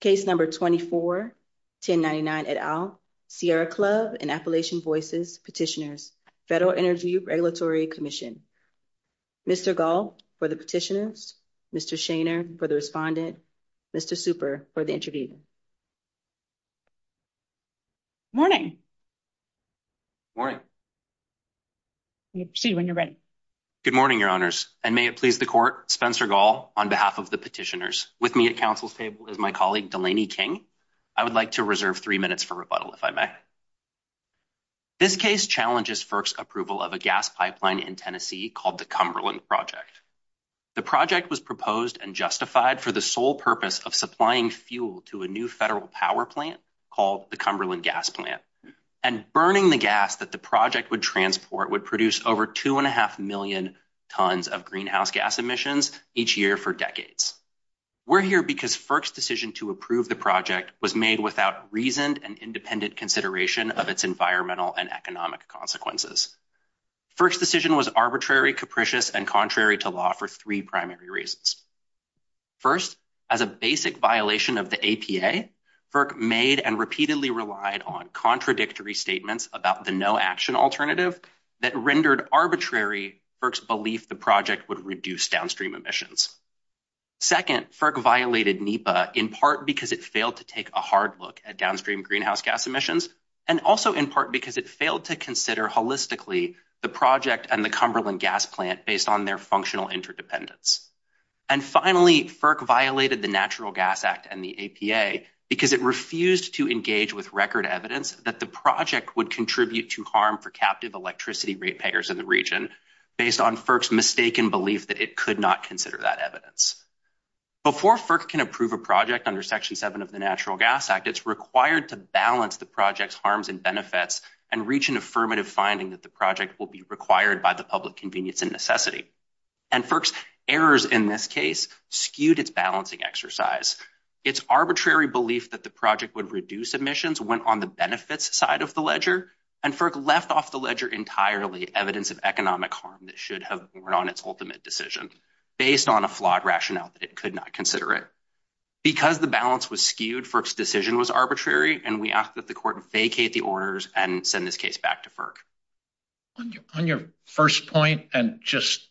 Case No. 24-1099 et al., Sierra Club and Appalachian Voices Petitioners, Federal Interview Regulatory Commission. Mr. Gall for the petitioners, Mr. Shainer for the respondent, Mr. Super for the interviewee. Good morning, your honors, and may it please the court, Spencer Gall, on behalf of the petitioners, with me at counsel's table is my colleague Delaney King. I would like to reserve three minutes for rebuttal, if I may. This case challenges FERC's approval of a gas pipeline in Tennessee called the Cumberland Project. The project was proposed and justified for the sole purpose of supplying fuel to a new federal power plant called the Cumberland Gas Plant, and burning the gas that the project would transport would produce over 2.5 million tons of greenhouse gas emissions each year for decades. We're here because FERC's decision to approve the project was made without reasoned and independent consideration of its environmental and economic consequences. FERC's decision was arbitrary, capricious, and contrary to law for three primary reasons. First, as a basic violation of the ATA, FERC made and repeatedly relied on contradictory statements about the no-action alternative that rendered arbitrary FERC's belief the project would reduce downstream emissions. Second, FERC violated NEPA in part because it failed to take a hard look at downstream greenhouse gas emissions, and also in part because it failed to consider holistically the project and the Cumberland Gas Plant based on their functional interdependence. And finally, FERC violated the Natural Gas Act and the APA because it refused to engage with record evidence that the project would contribute to harm for captive electricity repayers in the region based on FERC's mistaken belief that it could not consider that evidence. Before FERC can approve a project under Section 7 of the Natural Gas Act, it's required to balance the project's harms and benefits and reach an affirmative finding that the project will be required by the public convenience and necessity. And FERC's errors in this case skewed its balancing exercise. Its arbitrary belief that the project would reduce emissions went on the benefits side of the ledger, and FERC left off the ledger entirely evidence of economic harm that should have been on its ultimate decision, based on a flawed rationale that it could not consider it. Because the balance was skewed, FERC's decision was arbitrary, and we ask that the court vacate the orders and send this case back to FERC. On your first point, and just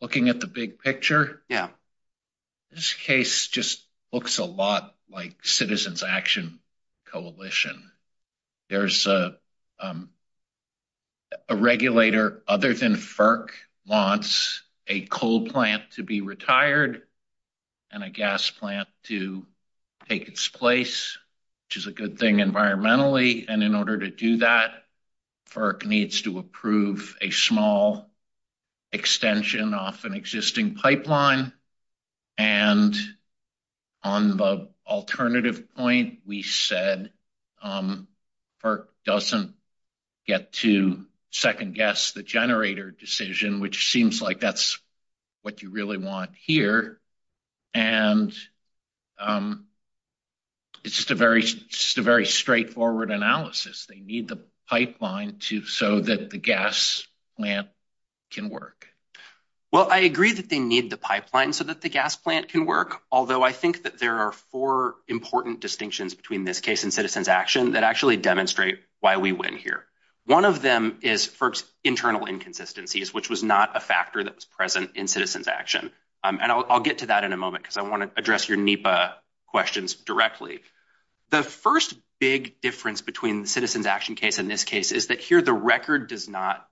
looking at the big picture, this case just looks a lot like Citizens Action Coalition. There's a regulator, other than FERC, wants a coal plant to be retired and a gas plant to take its place, which is a good thing environmentally, and in order to do that, FERC needs to approve a small extension off an existing pipeline. And on the alternative point, we said FERC doesn't get to second-guess the generator decision, which seems like that's what you really want here, and it's just a very straightforward analysis. They need the pipeline so that the gas plant can work. Well, I agree that they need the pipeline so that the gas plant can work, although I think that there are four important distinctions between this case and Citizens Action that actually demonstrate why we win here. One of them is FERC's internal inconsistencies, which was not a factor that was present in Citizens Action, and I'll get to that in a moment because I want to address your NEPA questions directly. The first big difference between Citizens Action case and this case is that here the record does not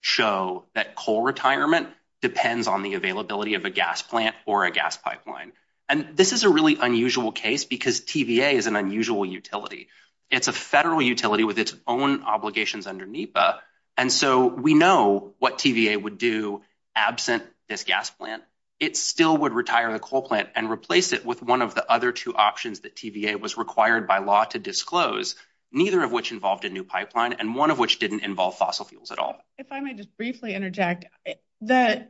show that coal retirement depends on the availability of a gas plant or a gas pipeline. And this is a really unusual case because TVA is an unusual utility. It's a federal utility with its own obligations under NEPA, and so we know what TVA would do absent this gas plant. It still would retire the coal plant and replace it with one of the other two options that TVA was required by law to disclose, neither of which involved a new pipeline and one of which didn't involve fossil fuels at all. If I may just briefly interject, the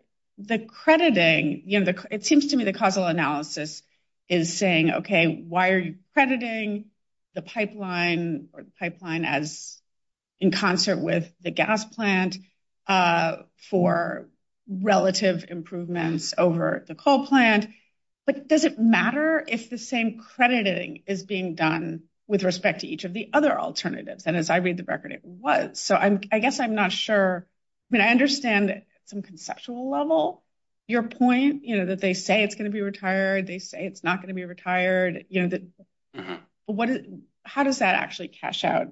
crediting, it seems to me the causal analysis is saying, OK, why are you crediting the pipeline or pipeline as in concert with the gas plant for relative improvements over the coal plant? But does it matter if the same crediting is being done with respect to each of the other alternatives? And as I read the record, it was. So I guess I'm not sure. I mean, I understand that some conceptual level. Your point, you know, that they say it's going to be retired. They say it's not going to be retired. You know that what is how does that actually cash out?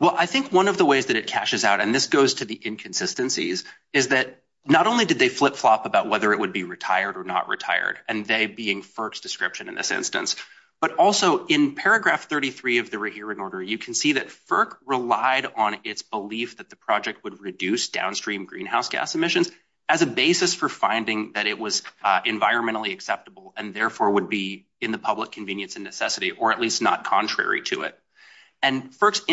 Well, I think one of the ways that it cashes out and this goes to the inconsistencies is that not only did they flip flop about whether it would be retired or not retired and they being first description in this instance, but also in paragraph thirty three of the hearing order, you can see that FERC relied on its belief that the project would reduce downstream greenhouse gas emissions as a basis for finding that it was environmentally acceptable and therefore would be in the public convenience and necessity or at least not contrary to it. And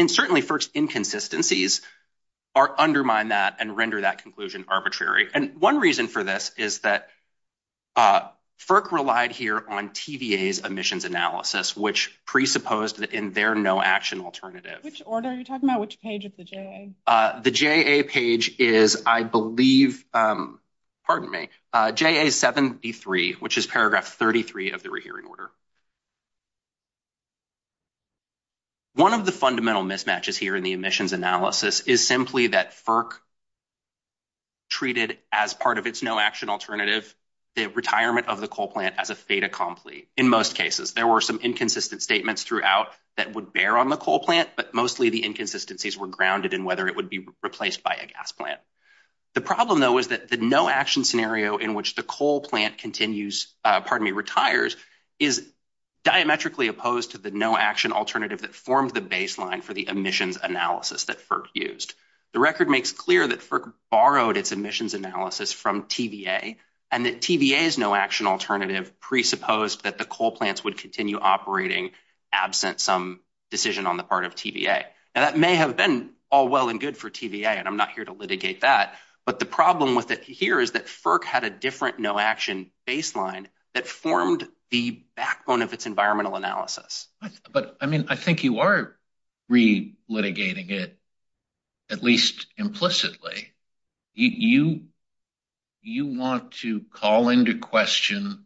certainly first inconsistencies are undermine that and render that conclusion arbitrary. And one reason for this is that FERC relied here on TVA's emissions analysis, which presupposed that in their no action alternative, which order you're talking about, which page of the J. The J.A. page is, I believe, pardon me, J.A. seventy three, which is paragraph thirty three of the hearing order. One of the fundamental mismatches here in the emissions analysis is simply that FERC. Treated as part of its no action alternative, the retirement of the coal plant as a state of conflict. In most cases, there were some inconsistent statements throughout that would bear on the coal plant, but mostly the inconsistencies were grounded in whether it would be replaced by a gas plant. The problem, though, is that the no action scenario in which the coal plant continues, pardon me, retires is diametrically opposed to the no action alternative that formed the baseline for the emissions analysis that FERC used. The record makes clear that FERC borrowed its emissions analysis from TVA and that TVA's no action alternative presupposed that the coal plants would continue operating absent some decision on the part of TVA. And that may have been all well and good for TVA, and I'm not here to litigate that. But the problem with it here is that FERC had a different no action baseline that formed the backbone of its environmental analysis. But I mean, I think you are re litigating it. At least implicitly. You want to call into question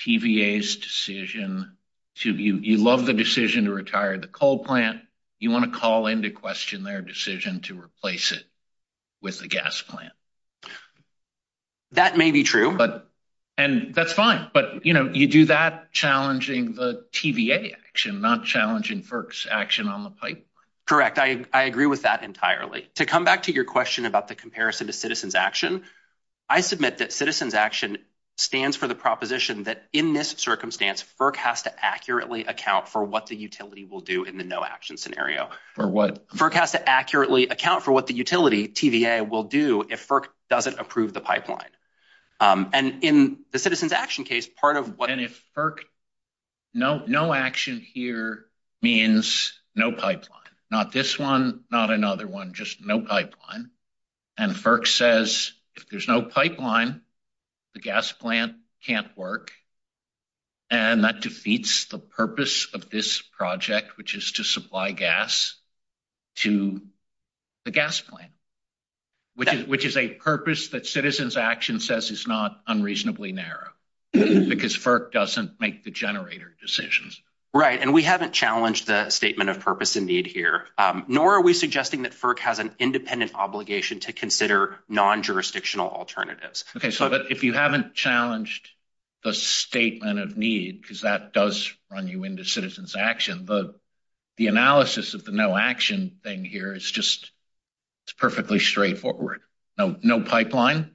TVA's decision to, you love the decision to retire the coal plant. You want to call into question their decision to replace it with a gas plant. That may be true. And that's fine. But, you know, you do that challenging the TVA action, not challenging FERC's action on the pipeline. Correct. I agree with that entirely. To come back to your question about the comparison to citizens action, I submit that citizens action stands for the proposition that in this circumstance, FERC has to accurately account for what the utility will do in the no action scenario. For what? FERC has to accurately account for what the utility, TVA, will do if FERC doesn't approve the pipeline. And in the citizens action case, part of what. And if FERC, no action here means no pipeline. Not this one, not another one, just no pipeline. And FERC says if there's no pipeline, the gas plant can't work. And that defeats the purpose of this project, which is to supply gas to the gas plant. Which is a purpose that citizens action says is not unreasonably narrow. Because FERC doesn't make the generator decisions. Right. And we haven't challenged that statement of purpose and need here. Nor are we suggesting that FERC has an independent obligation to consider non-jurisdictional alternatives. Okay. If you haven't challenged the statement of need, because that does run you into citizens action. The analysis of the no action thing here is just perfectly straightforward. No pipeline,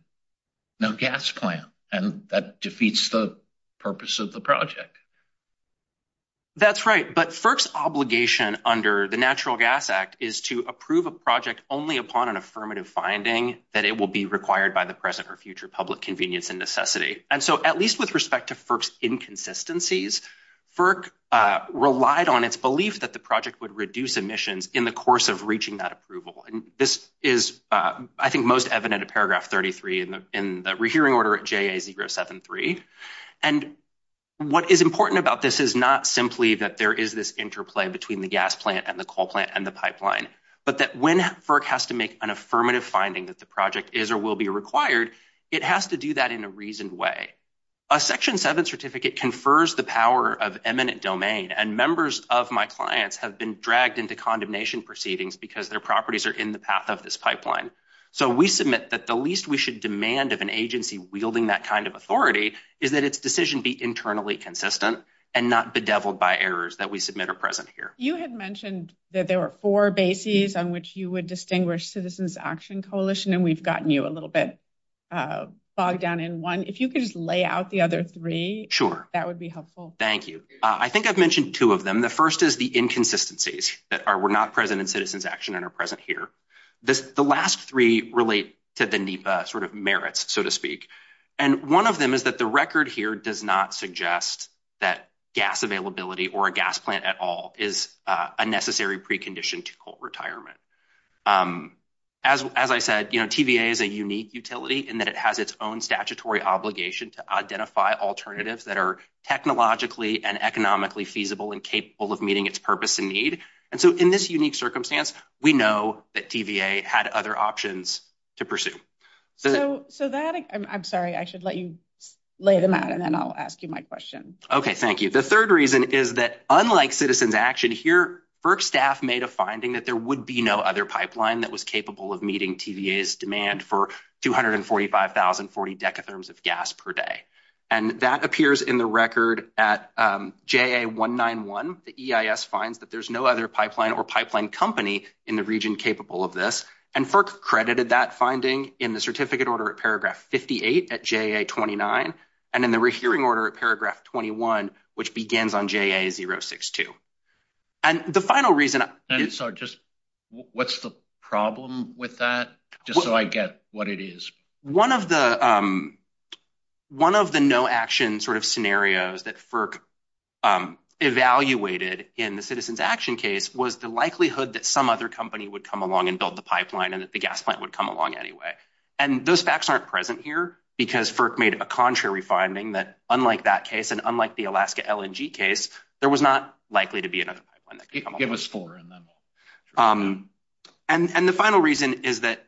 no gas plant. And that defeats the purpose of the project. That's right. But FERC's obligation under the Natural Gas Act is to approve a project only upon an affirmative finding that it will be required by the present or future public convenience and necessity. And so at least with respect to FERC's inconsistencies, FERC relied on its belief that the project would reduce emissions in the course of reaching that approval. And this is, I think, most evident in paragraph 33 in the rehearing order at JA 073. And what is important about this is not simply that there is this interplay between the gas plant and the coal plant and the pipeline. But that when FERC has to make an affirmative finding that the project is or will be required, it has to do that in a reasoned way. A Section 7 certificate confers the power of eminent domain. And members of my clients have been dragged into condemnation proceedings because their properties are in the path of this pipeline. So we submit that the least we should demand of an agency wielding that kind of authority is that its decision be internally consistent and not bedeviled by errors that we submit are present here. You had mentioned that there were four bases on which you would distinguish Citizens Action Coalition, and we've gotten you a little bit bogged down in one. If you could just lay out the other three, that would be helpful. Sure. Thank you. I think I've mentioned two of them. The first is the inconsistencies that were not present in Citizens Action and are present here. The last three relate to the NEPA sort of merits, so to speak. And one of them is that the record here does not suggest that gas availability or a gas plant at all is a necessary precondition to coal retirement. As I said, you know, TVA is a unique utility in that it has its own statutory obligation to identify alternatives that are technologically and economically feasible and capable of meeting its purpose and need. And so in this unique circumstance, we know that TVA had other options to pursue. I'm sorry. I should let you lay the mat and then I'll ask you my question. Okay. Thank you. The third reason is that unlike Citizens Action here, FERC staff made a finding that there would be no other pipeline that was capable of meeting TVA's demand for 245,040 decatherms of gas per day. And that appears in the record at JA191. The EIS finds that there's no other pipeline or pipeline company in the region capable of this. And FERC credited that finding in the certificate order at paragraph 58 at JA29 and in the rehearing order at paragraph 21, which begins on JA062. And the final reason— I'm sorry. Just what's the problem with that, just so I get what it is? One of the no-action sort of scenarios that FERC evaluated in the Citizens Action case was the likelihood that some other company would come along and build the pipeline and that the gas plant would come along anyway. And those facts aren't present here because FERC made a contrary finding that unlike that case and unlike the Alaska LNG case, there was not likely to be another pipeline that could come along. It was four of them. And the final reason is that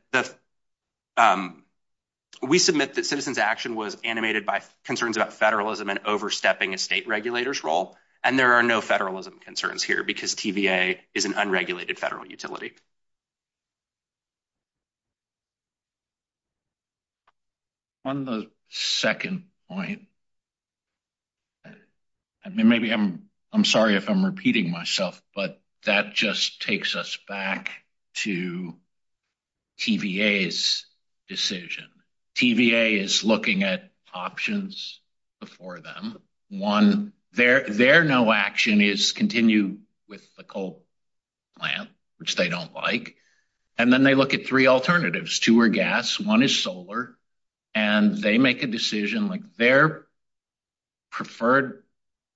we submit that Citizens Action was animated by concerns about federalism and overstepping a state regulator's role. And there are no federalism concerns here because TVA is an unregulated federal utility. On the second point—I mean, maybe I'm sorry if I'm repeating myself, but that just takes us back to TVA's decision. TVA is looking at options before them. One, their no-action is continue with the coal plant, which they don't like. And then they look at three alternatives. Two are gas. One is solar. And they make a decision. Like, their preferred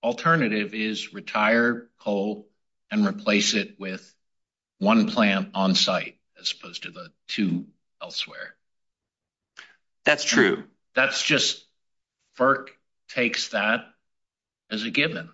alternative is retire coal and replace it with one plant on site as opposed to the two elsewhere. That's true. That's just—FERC takes that as a given.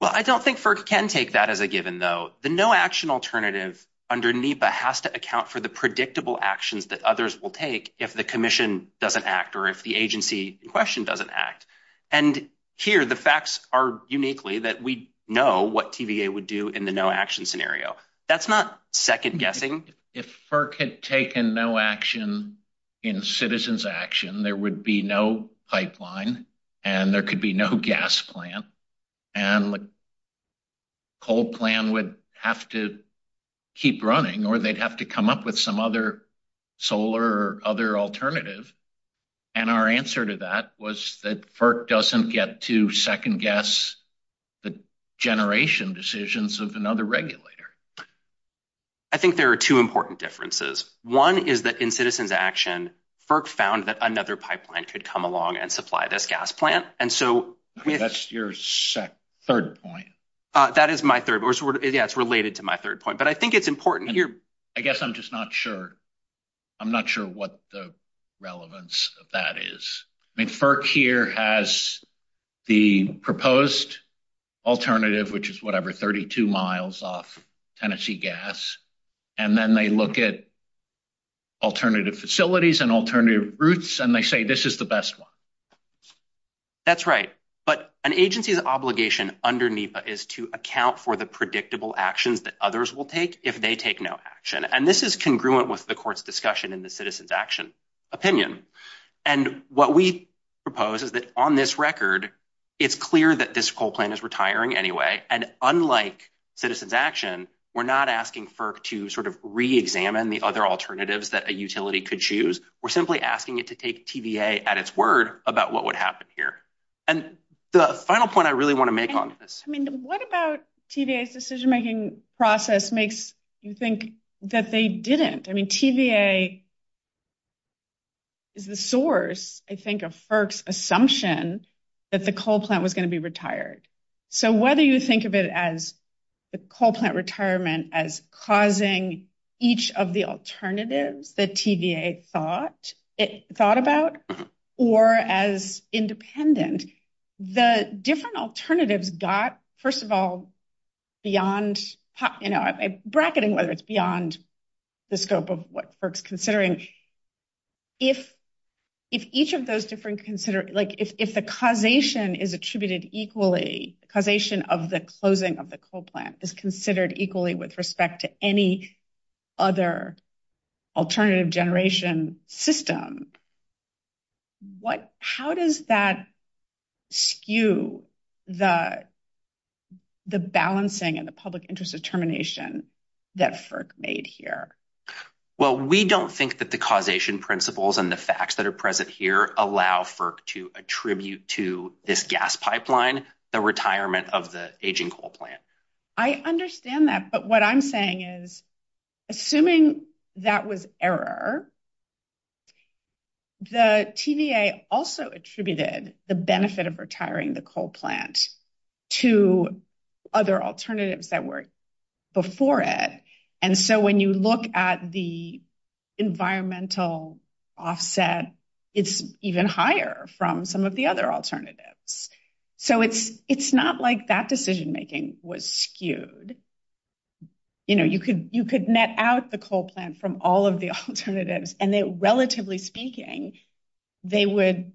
Well, I don't think FERC can take that as a given, though. The no-action alternative under NEPA has to account for the predictable actions that others will take if the commission doesn't act or if the agency in question doesn't act. And here, the facts are uniquely that we know what TVA would do in the no-action scenario. That's not second-guessing. If FERC had taken no action in Citizens Action, there would be no pipeline and there could be no gas plant. And the coal plant would have to keep running or they'd have to come up with some other solar or other alternative. And our answer to that was that FERC doesn't get to second-guess the generation decisions of another regulator. I think there are two important differences. One is that in Citizens Action, FERC found that another pipeline could come along and supply this gas plant. And so— That's your third point. That is my third. Yeah, it's related to my third point. But I think it's important here— I guess I'm just not sure. I'm not sure what the relevance of that is. I mean, FERC here has the proposed alternative, which is, whatever, 32 miles off Tennessee gas. And then they look at alternative facilities and alternative routes, and they say this is the best one. That's right. But an agency's obligation under NEPA is to account for the predictable actions that others will take if they take no action. And this is congruent with the court's discussion in the Citizens Action opinion. And what we propose is that on this record, it's clear that this coal plant is retiring anyway. And unlike Citizens Action, we're not asking FERC to sort of re-examine the other alternatives that a utility could choose. We're simply asking it to take TVA at its word about what would happen here. And the final point I really want to make on this— I mean, what about TVA's decision-making process makes you think that they didn't? I mean, TVA is the source, I think, of FERC's assumption that the coal plant was going to be retired. So whether you think of it as the coal plant retirement as causing each of the alternatives that TVA thought about or as independent, the different alternatives got, first of all, beyond—you know, bracketing was beyond the scope of what FERC's considering. If each of those different—like, if the causation is attributed equally, causation of the closing of the coal plant is considered equally with respect to any other alternative generation system, how does that skew the balancing and the public interest determination that FERC made here? Well, we don't think that the causation principles and the facts that are present here allow FERC to attribute to this gas pipeline the retirement of the aging coal plant. I understand that, but what I'm saying is, assuming that was error, the TVA also attributed the benefit of retiring the coal plant to other alternatives that were before it. And so when you look at the environmental offset, it's even higher from some of the other alternatives. So it's not like that decision-making was skewed. You know, you could net out the coal plant from all of the alternatives, and then, relatively speaking, they would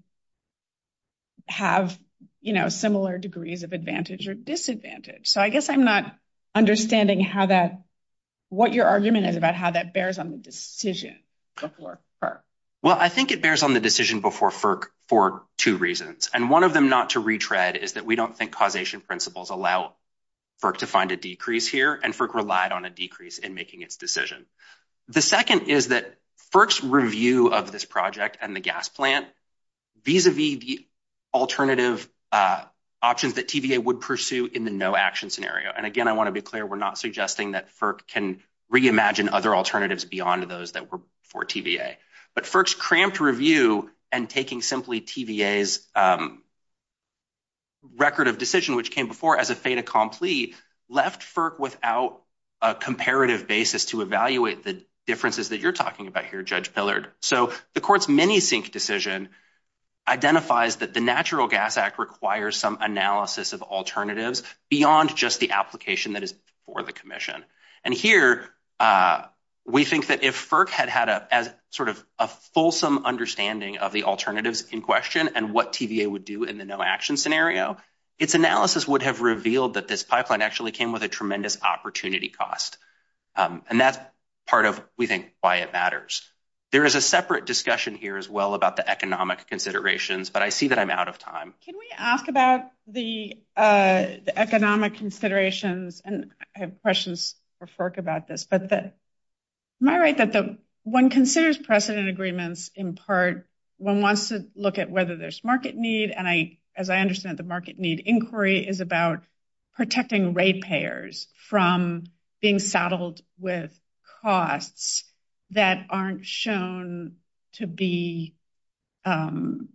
have, you know, similar degrees of advantage or disadvantage. So I guess I'm not understanding what your argument is about how that bears on the decision before FERC. Well, I think it bears on the decision before FERC for two reasons. And one of them, not to retread, is that we don't think causation principles allow FERC to find a decrease here, and FERC relied on a decrease in making its decision. The second is that FERC's review of this project and the gas plant vis-a-vis the alternative options that TVA would pursue in the no-action scenario. And again, I want to be clear, we're not suggesting that FERC can reimagine other alternatives beyond those that were before TVA. But FERC's cramped review and taking simply TVA's record of decision, which came before as a fait accompli, left FERC without a comparative basis to evaluate the differences that you're talking about here, Judge Pillard. So the court's many-think decision identifies that the Natural Gas Act requires some analysis of alternatives beyond just the application that is before the commission. And here, we think that if FERC had had a sort of a fulsome understanding of the alternatives in question and what TVA would do in the no-action scenario, its analysis would have revealed that this pipeline actually came with a tremendous opportunity cost. And that's part of, we think, why it matters. There is a separate discussion here as well about the economic considerations, but I see that I'm out of time. Can we ask about the economic considerations? And I have questions for FERC about this. Am I right that when one considers precedent agreements, in part, one wants to look at whether there's market need? And as I understand it, the market need inquiry is about protecting rate payers from being saddled with costs that aren't shown to be going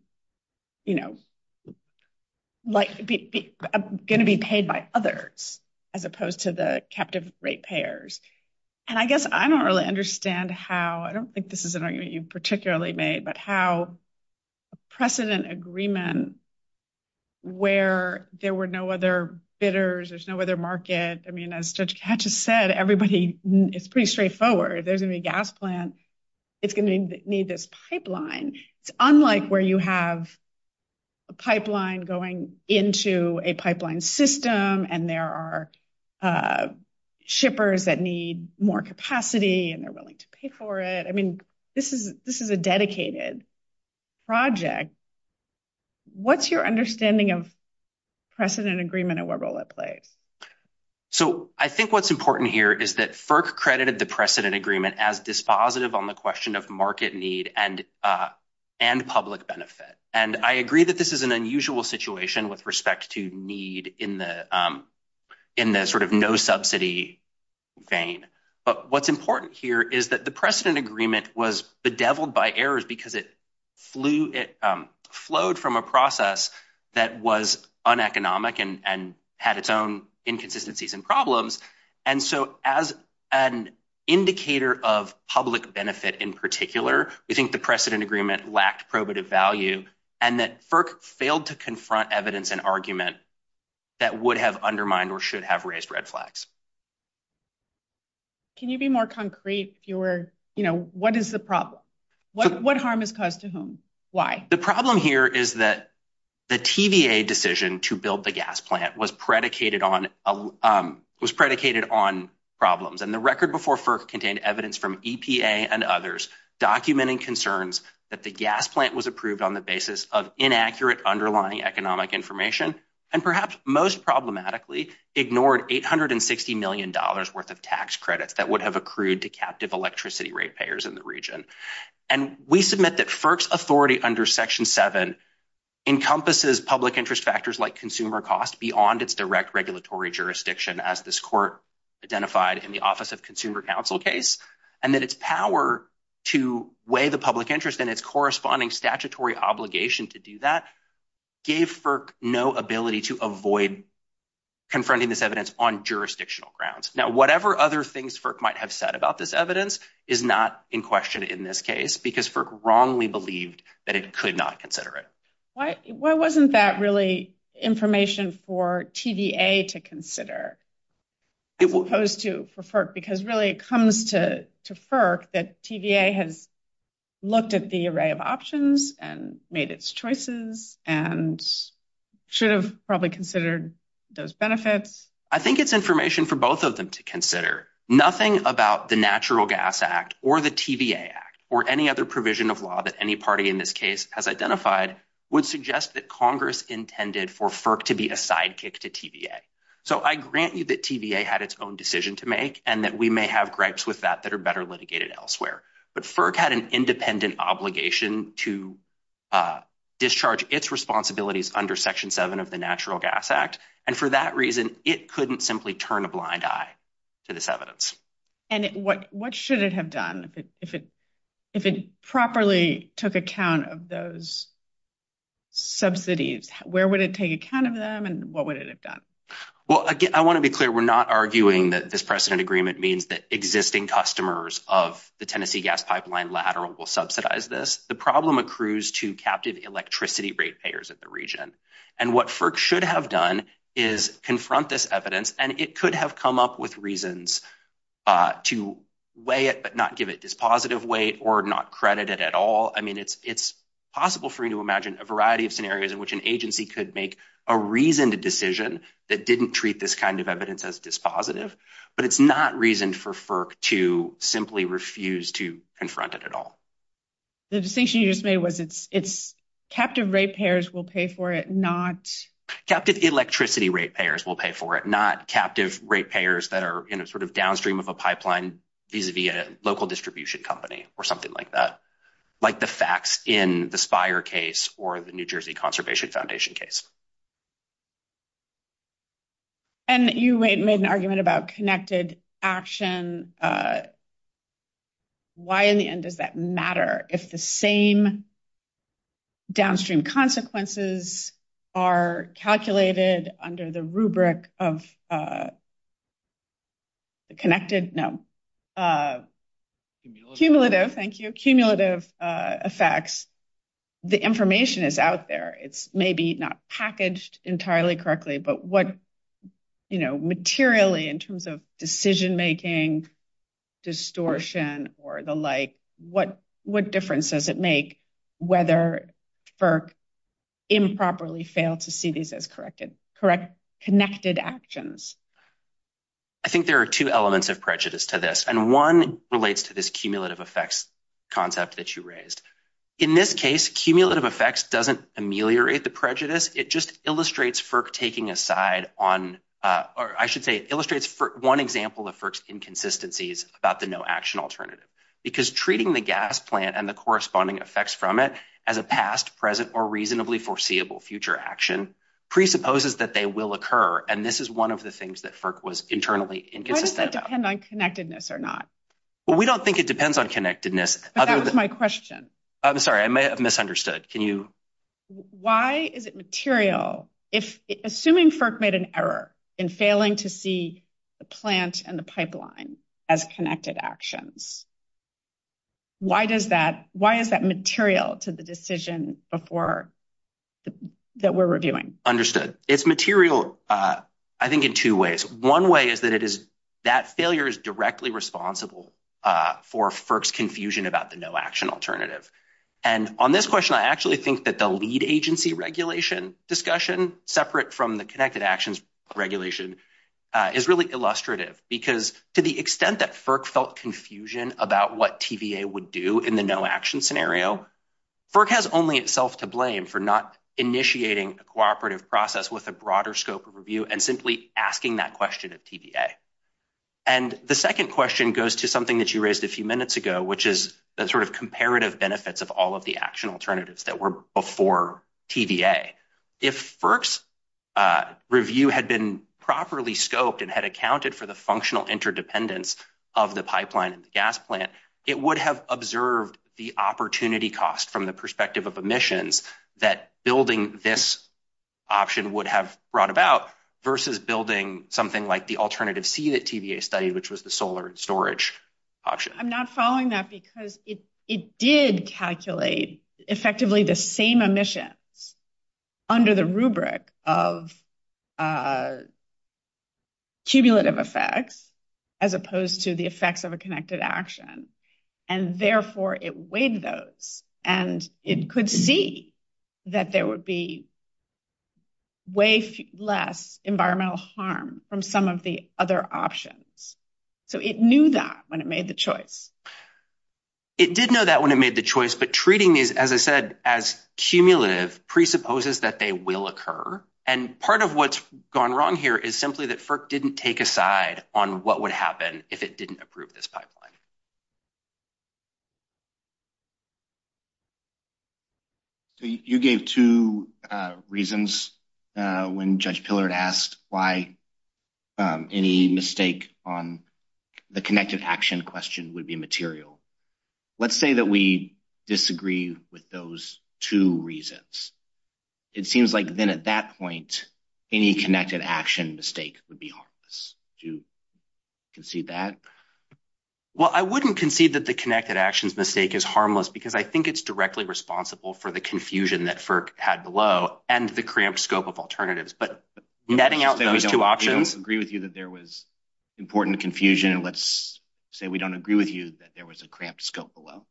to be paid by others as opposed to the captive rate payers. And I guess I don't really understand how, I don't think this is an argument you've particularly made, but how precedent agreement where there were no other bidders, there's no other market. I mean, as Judge Katcha said, everybody, it's pretty straightforward. There's going to be a gas plant. It's going to need this pipeline. It's unlike where you have a pipeline going into a pipeline system and there are shippers that need more capacity and they're willing to pay for it. I mean, this is a dedicated project. What's your understanding of precedent agreement and what role it plays? So I think what's important here is that FERC credited the precedent agreement as dispositive on the question of market need and public benefit. And I agree that this is an unusual situation with respect to need in the sort of no subsidy vein. But what's important here is that the precedent agreement was bedeviled by errors because it flowed from a process that was uneconomic and had its own inconsistencies and problems. And so as an indicator of public benefit in particular, we think the precedent agreement lacked probative value and that FERC failed to confront evidence and argument that would have undermined or should have raised red flags. Can you be more concrete? What is the problem? What harm is caused to whom? Why? The problem here is that the TVA decision to build the gas plant was predicated on problems. And the record before FERC contained evidence from EPA and others documenting concerns that the gas plant was approved on the basis of inaccurate underlying economic information and perhaps most problematically ignored $860 million worth of tax credits that would have accrued to captive electricity rate payers in the region. And we submit that FERC's authority under Section 7 encompasses public interest factors like consumer cost beyond its direct regulatory jurisdiction as this court identified in the Office of Consumer Counsel case. And that its power to weigh the public interest and its corresponding statutory obligation to do that gave FERC no ability to avoid confronting this evidence on jurisdictional grounds. Now, whatever other things FERC might have said about this evidence is not in question in this case because FERC wrongly believed that it could not consider it. Why wasn't that really information for TVA to consider as opposed to for FERC? Because really it comes to FERC that TVA has looked at the array of options and made its choices and should have probably considered those benefits. I think it's information for both of them to consider. Nothing about the Natural Gas Act or the TVA Act or any other provision of law that any party in this case has identified would suggest that Congress intended for FERC to be a sidekick to TVA. So I grant you that TVA had its own decision to make and that we may have gripes with that that are better litigated elsewhere. But FERC had an independent obligation to discharge its responsibilities under Section 7 of the Natural Gas Act. And for that reason, it couldn't simply turn a blind eye to this evidence. And what should it have done if it properly took account of those subsidies? Where would it take account of them and what would it have done? Well, again, I want to be clear, we're not arguing that this precedent agreement means that existing customers of the Tennessee gas pipeline lateral will subsidize this. The problem accrues to captive electricity rate payers in the region. And what FERC should have done is confront this evidence and it could have come up with reasons to weigh it but not give it this positive weight or not credit it at all. I mean, it's possible for you to imagine a variety of scenarios in which an agency could make a reasoned decision that didn't treat this kind of evidence as dispositive. But it's not reasoned for FERC to simply refuse to confront it at all. The decision you just made was it's captive rate payers will pay for it, not... Captive electricity rate payers will pay for it, not captive rate payers that are in a sort of downstream of a pipeline vis-a-vis a local distribution company or something like that. Like the facts in the Spire case or the New Jersey Conservation Foundation case. And you made an argument about connected action. Why in the end does that matter? If the same downstream consequences are calculated under the rubric of connected... Cumulative. Thank you. Cumulative effects. The information is out there. It's maybe not packaged entirely correctly, but what materially in terms of decision-making, distortion or the like, what difference does it make whether FERC improperly failed to see these as connected actions? I think there are two elements of prejudice to this. And one relates to this cumulative effects concept that you raised. In this case, cumulative effects doesn't ameliorate the prejudice. It just illustrates FERC taking a side on... Or I should say illustrates one example of FERC's inconsistencies about the no action alternative. Because treating the gas plant and the corresponding effects from it as a past, present or reasonably foreseeable future action presupposes that they will occur. And this is one of the things that FERC was internally inconsistent about. Why does it depend on connectedness or not? Well, we don't think it depends on connectedness. But that was my question. I'm sorry. I may have misunderstood. Can you... Why is it material? Assuming FERC made an error in failing to see the plant and the pipeline as connected actions, why is that material to the decision that we're reviewing? Understood. It's material, I think, in two ways. One way is that it is... That failure is directly responsible for FERC's confusion about the no action alternative. And on this question, I actually think that the lead agency regulation discussion, separate from the connected actions regulation, is really illustrative. Because to the extent that FERC felt confusion about what TVA would do in the no action scenario, FERC has only itself to blame for not initiating a cooperative process with a broader scope of review and simply asking that question at TVA. And the second question goes to something that you raised a few minutes ago, which is the sort of comparative benefits of all of the action alternatives that were before TVA. If FERC's review had been properly scoped and had accounted for the functional interdependence of the pipeline and the gas plant, it would have observed the opportunity cost from the perspective of emissions that building this option would have brought about versus building something like the alternative C that TVA studied, which was the solar storage option. I'm not following that because it did calculate effectively the same emissions under the rubric of tubulative effects as opposed to the effects of a connected action. And therefore, it weighed those. And it could see that there would be way less environmental harm from some of the other options. So it knew that when it made the choice. It did know that when it made the choice. But treating these, as I said, as cumulative presupposes that they will occur. And part of what's gone wrong here is simply that FERC didn't take a side on what would happen if it didn't approve this pipeline. So you gave two reasons when Judge Pillard asked why any mistake on the connected action question would be material. Let's say that we disagree with those two reasons. It seems like then at that point, any connected action mistake would be harmless. Do you concede that? Well, I wouldn't concede that the connected actions mistake is harmless because I think it's directly responsible for the confusion that FERC had below and the cramped scope of alternatives. But netting out those two options. Let's say we don't agree with you that there was important confusion. Let's say we don't agree with you that there was a cramped scope below.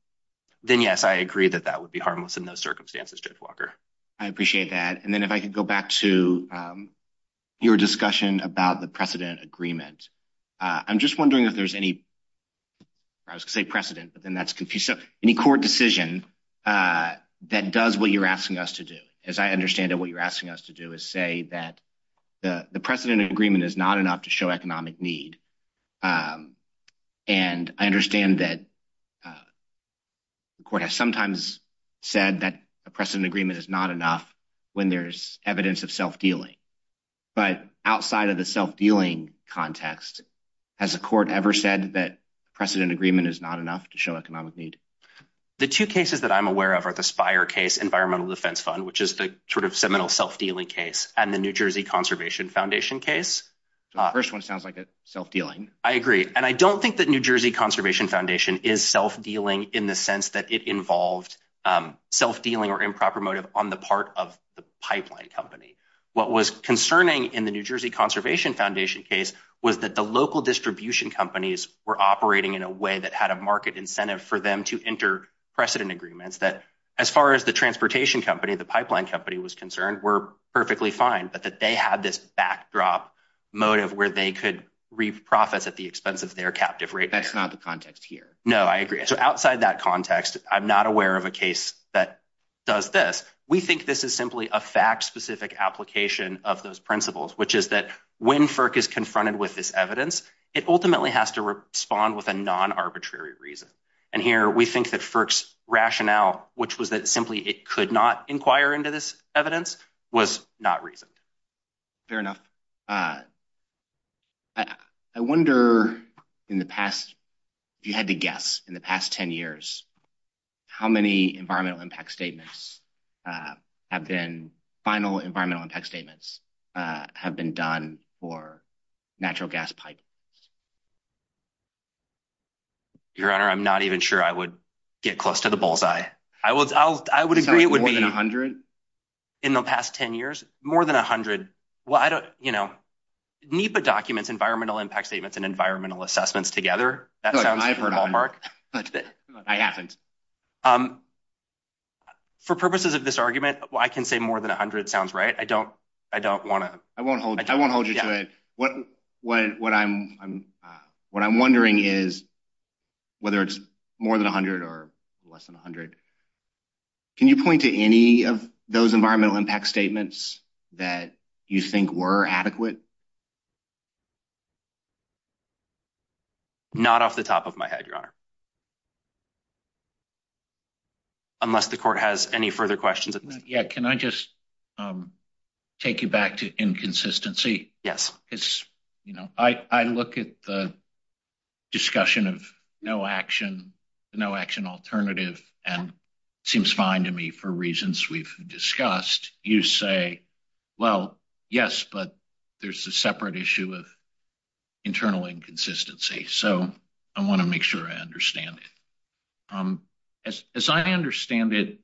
Then, yes, I agree that that would be harmless in those circumstances, Judge Walker. I appreciate that. And then if I could go back to your discussion about the precedent agreement. I'm just wondering if there's any core decision that does what you're asking us to do. As I understand it, what you're asking us to do is say that the precedent agreement is not enough to show economic need. And I understand that the court has sometimes said that a precedent agreement is not enough when there's evidence of self-dealing. But outside of the self-dealing context, has the court ever said that precedent agreement is not enough to show economic need? The two cases that I'm aware of are the Spire case, Environmental Defense Fund, which is the sort of seminal self-dealing case, and the New Jersey Conservation Foundation case. First one sounds like it's self-dealing. I agree. And I don't think that New Jersey Conservation Foundation is self-dealing in the sense that it involved self-dealing or improper motive on the part of the pipeline company. What was concerning in the New Jersey Conservation Foundation case was that the local distribution companies were operating in a way that had a market incentive for them to enter precedent agreements that, as far as the transportation company, the pipeline company was concerned, were perfectly fine. But that they had this backdrop motive where they could reprocess at the expense of their captive rate. That's not the context here. No, I agree. So outside that context, I'm not aware of a case that does this. But we think this is simply a fact-specific application of those principles, which is that when FERC is confronted with this evidence, it ultimately has to respond with a non-arbitrary reason. And here we think that FERC's rationale, which was that simply it could not inquire into this evidence, was not reasoned. Fair enough. I wonder, if you had to guess, in the past 10 years, how many final environmental impact statements have been done for natural gas pipelines? Your Honor, I'm not even sure I would get close to the bullseye. I would agree it would be more than 100. In the past 10 years? More than 100. NEPA documents environmental impact statements and environmental assessments together. For purposes of this argument, I can say more than 100 sounds right. I don't want to. I won't hold you to it. What I'm wondering is whether it's more than 100 or less than 100. Can you point to any of those environmental impact statements that you think were adequate? Not off the top of my head, Your Honor. Unless the Court has any further questions. Can I just take you back to inconsistency? Yes. I look at the discussion of no action, no action alternative, and it seems fine to me for reasons we've discussed. You say, well, yes, but there's a separate issue of internal inconsistency. So I want to make sure I understand it. As I understand it,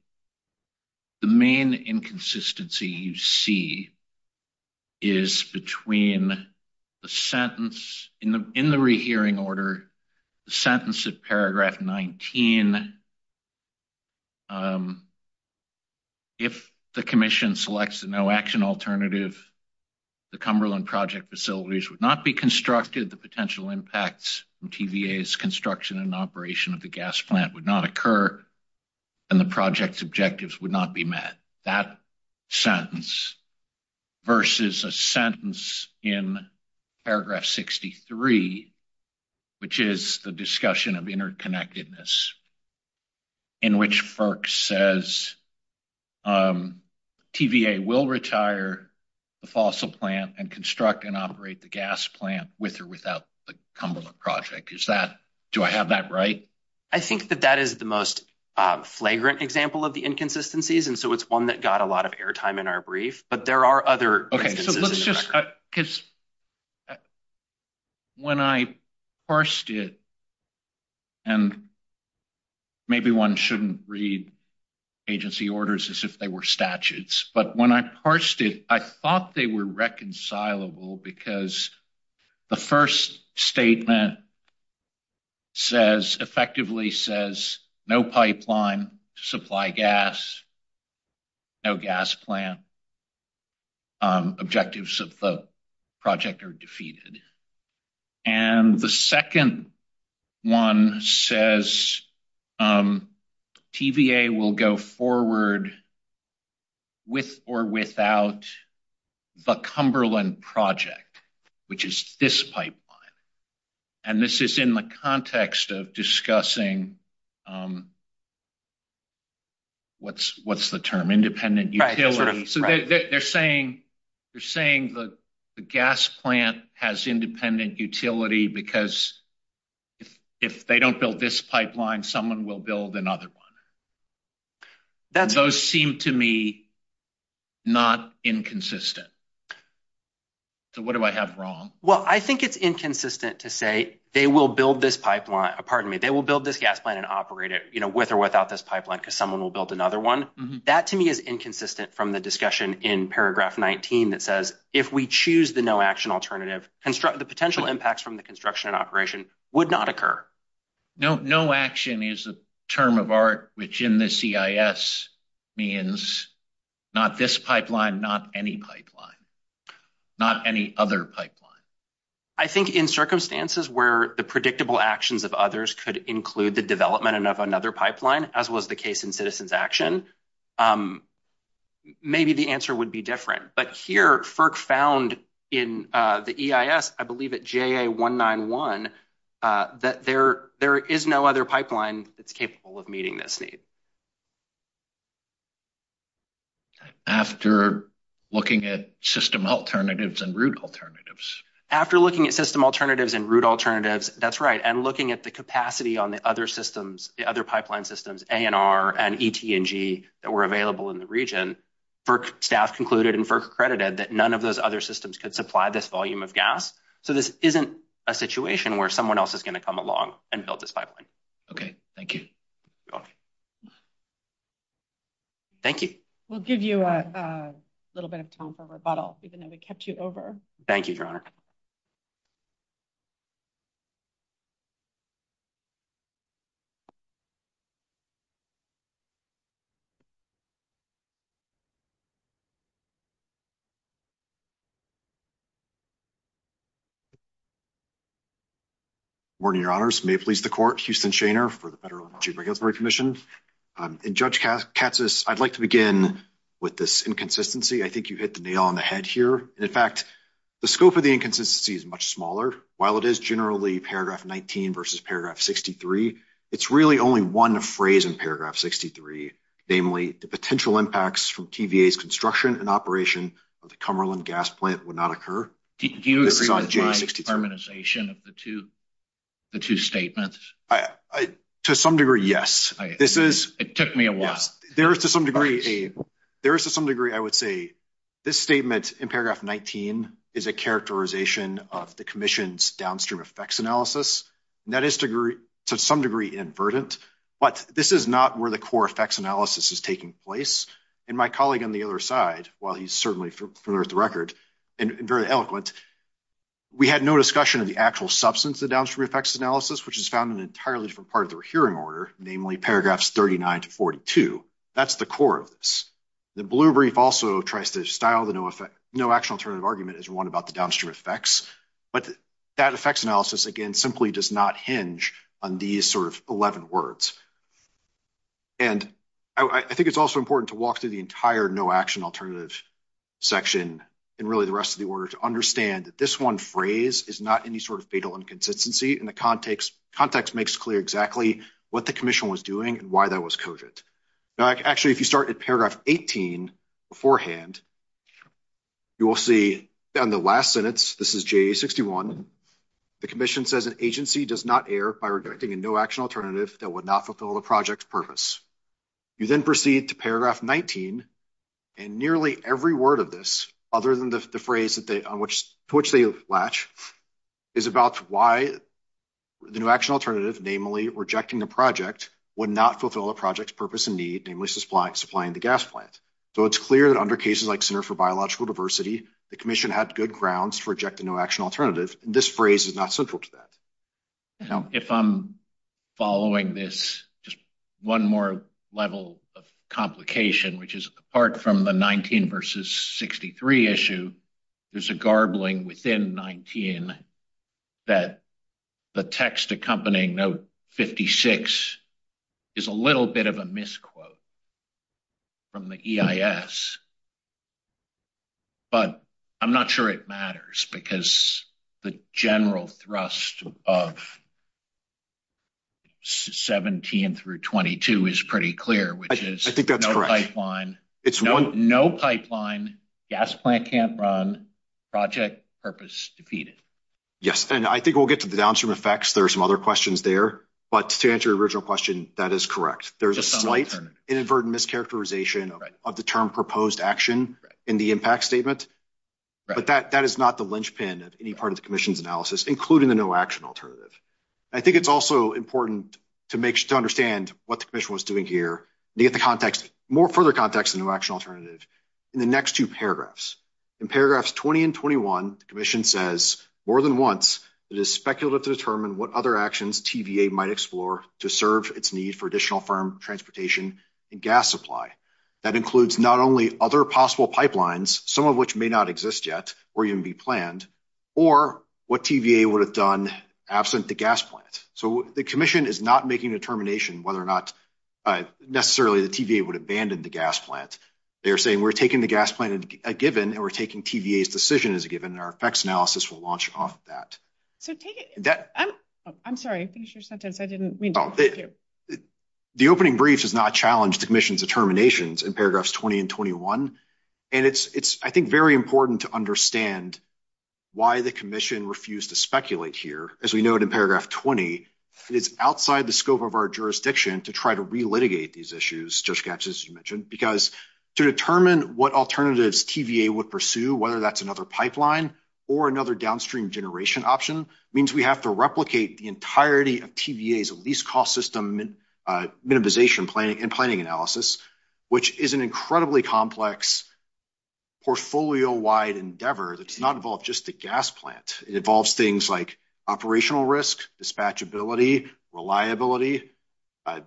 the main inconsistency you see is between the sentence in the rehearing order, the sentence of paragraph 19. If the commission selects the no action alternative, the Cumberland project facilities would not be constructed, the potential impacts from TVA's construction and operation of the gas plant would not occur, and the project's objectives would not be met. That sentence versus a sentence in paragraph 63, which is the discussion of interconnectedness, in which FERC says TVA will retire the fossil plant and construct and operate the gas plant with or without the Cumberland project. Is that, do I have that right? I think that that is the most flagrant example of the inconsistencies, and so it's one that got a lot of airtime in our brief, but there are other inconsistencies. Because when I parsed it, and maybe one shouldn't read agency orders as if they were statutes, but when I parsed it, I thought they were reconcilable because the first statement effectively says no pipeline, supply gas, no gas plant. Objectives of the project are defeated, and the second one says TVA will go forward with or without the Cumberland project, which is this pipeline. This is in the context of discussing, what's the term? Independent utility. They're saying the gas plant has independent utility because if they don't build this pipeline, someone will build another one. Those seem to me not inconsistent. What do I have wrong? Well, I think it's inconsistent to say they will build this pipeline, pardon me, they will build this gas plant and operate it with or without this pipeline because someone will build another one. That to me is inconsistent from the discussion in paragraph 19 that says if we choose the no action alternative, the potential impacts from the construction and operation would not occur. No action is a term of art, which in the CIS means not this pipeline, not any pipeline, not any other pipeline. I think in circumstances where the predictable actions of others could include the development of another pipeline, as well as the case in citizens action, maybe the answer would be different. But here, FERC found in the EIS, I believe at JA191, that there is no other pipeline that's capable of meeting this need. After looking at system alternatives and route alternatives. After looking at system alternatives and route alternatives, that's right, and looking at the capacity on the other systems, the other pipeline systems, A&R and ET&G that were available in the region, FERC staff concluded and FERC accredited that none of those other systems could supply this volume of gas. So this isn't a situation where someone else is going to come along and build this pipeline. Okay, thank you. Thank you. We'll give you a little bit of time for rebuttal, even though we kept you over. Thank you, Your Honor. Morning, Your Honors. May it please the court. Houston Shaner for the Federal Regulatory Commission. And Judge Katsas, I'd like to begin with this inconsistency. I think you hit the nail on the head here. In fact, the scope of the inconsistency is much smaller. While it is generally paragraph 19 versus paragraph 63, it's really only one phrase in paragraph 63. Namely, the potential impacts from TVA's construction and operation of the Cumberland gas plant would not occur. Do you agree with my determination of the two statements? To some degree, yes. It took me a while. There is, to some degree, I would say, this statement in paragraph 19 is a characterization of the commission's downstream effects analysis. That is, to some degree, inadvertent. But this is not where the core effects analysis is taking place. And my colleague on the other side, while he's certainly familiar with the record and very eloquent, we had no discussion of the actual substance of downstream effects analysis, which is found in an entirely different part of the hearing order, namely paragraphs 39 to 42. That's the core of this. The blue brief also tries to style the no-action alternative argument as one about the downstream effects. But that effects analysis, again, simply does not hinge on these sort of 11 words. And I think it's also important to walk through the entire no-action alternative section and really the rest of the order to understand that this one phrase is not any sort of fatal inconsistency. And the context makes clear exactly what the commission was doing and why that was coded. In fact, actually, if you start at paragraph 18 beforehand, you will see in the last sentence, this is JA-61, the commission says an agency does not err by rejecting a no-action alternative that would not fulfill the project's purpose. You then proceed to paragraph 19, and nearly every word of this, other than the phrase to which they latch, is about why the no-action alternative, namely rejecting the project, would not fulfill the project's purpose and need, namely supplying the gas plant. So it's clear that under cases like Center for Biological Diversity, the commission had good grounds to reject a no-action alternative, and this phrase is not central to that. If I'm following this, just one more level of complication, which is apart from the 19 versus 63 issue, there's a garbling within 19 that the text accompanying note 56 is a little bit of a misquote from the EIS. But I'm not sure it matters, because the general thrust of 17 through 22 is pretty clear, which is no pipeline, gas plant can't run, project purpose defeated. Yes, and I think we'll get to the downstream effects, there are some other questions there, but to answer your original question, that is correct. There's a slight inadvertent mischaracterization of the term proposed action in the impact statement, but that is not the linchpin of any part of the commission's analysis, including the no-action alternative. I think it's also important to understand what the commission was doing here, to get the context, more further context of the no-action alternative, in the next two paragraphs. In paragraphs 20 and 21, the commission says, more than once, it is speculative to determine what other actions TVA might explore to serve its need for additional firm transportation and gas supply. That includes not only other possible pipelines, some of which may not exist yet, or even be planned, or what TVA would have done absent the gas plant. So the commission is not making a determination whether or not necessarily the TVA would abandon the gas plant. They're saying we're taking the gas plant as a given, and we're taking TVA's decision as a given, and our effects analysis will launch off of that. I'm sorry, I think it's your sentence, I didn't mean to interrupt you. The opening briefs has not challenged the commission's determinations in paragraphs 20 and 21, and it's, I think, very important to understand why the commission refused to speculate here. As we note in paragraph 20, it's outside the scope of our jurisdiction to try to re-litigate these issues, Judge Gatch, as you mentioned, because to determine what alternatives TVA would pursue, whether that's another pipeline or another downstream generation option, means we have to replicate the entirety of TVA's least-cost system minimization and planning analysis, which is an incredibly complex portfolio-wide endeavor that's not involved just the gas plant. It involves things like operational risk, dispatchability, reliability,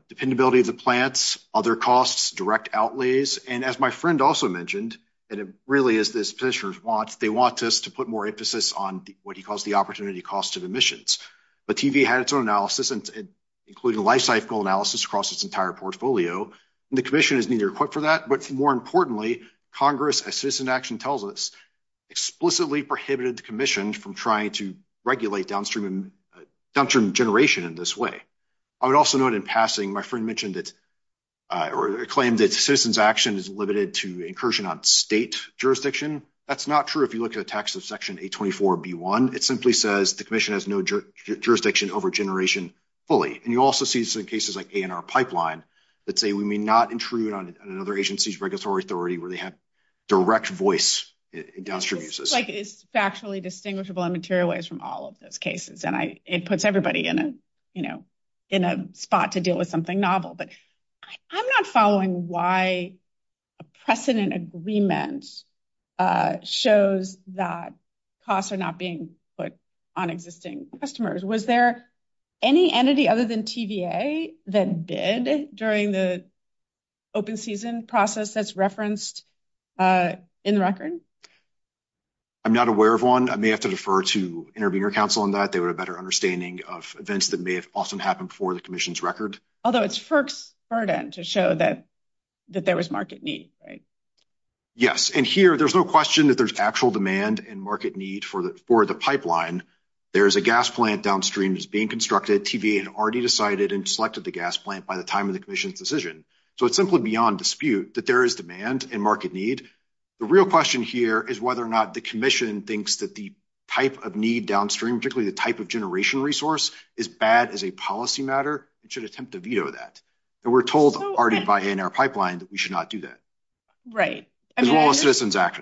dependability of the plants, other costs, direct outlays, and as my friend also mentioned, and it really is this petitioner's want, they want us to put more emphasis on what he calls the opportunity cost of emissions. But TVA has its own analysis, including a lifecycle analysis across its entire portfolio, and the commission is neither equipped for that, but more importantly, Congress, as Citizen Action tells us, explicitly prohibited the commission from trying to regulate downstream generation in this way. I would also note in passing, my friend mentioned that, or claimed that Citizen Action is limited to incursion on state jurisdiction. That's not true if you look at the text of section 824B1. It simply says the commission has no jurisdiction over generation fully. And you also see some cases like ANR Pipeline that say we may not intrude on another agency's regulatory authority where they have direct voice in downstream uses. It seems like it's factually distinguishable and materialized from all of those cases, and it puts everybody in a spot to deal with something novel. But I'm not following why a precedent agreement shows that costs are not being put on existing customers. Was there any entity other than TVA that bid during the open season process that's referenced in the record? I'm not aware of one. I may have to defer to Intervenor Council on that. They would have a better understanding of events that may have often happened before the commission's record. Although it's FERC's burden to show that there was market need, right? Yes. And here, there's no question that there's actual demand and market need for the pipeline. There is a gas plant downstream that's being constructed. TVA had already decided and selected the gas plant by the time of the commission's decision. So, it's simply beyond dispute that there is demand and market need. The real question here is whether or not the commission thinks that the type of need downstream, particularly the type of generation resource, is bad as a policy matter and should attempt to veto that. And we're told already by ANR Pipeline that we should not do that. Right. As long as citizens act.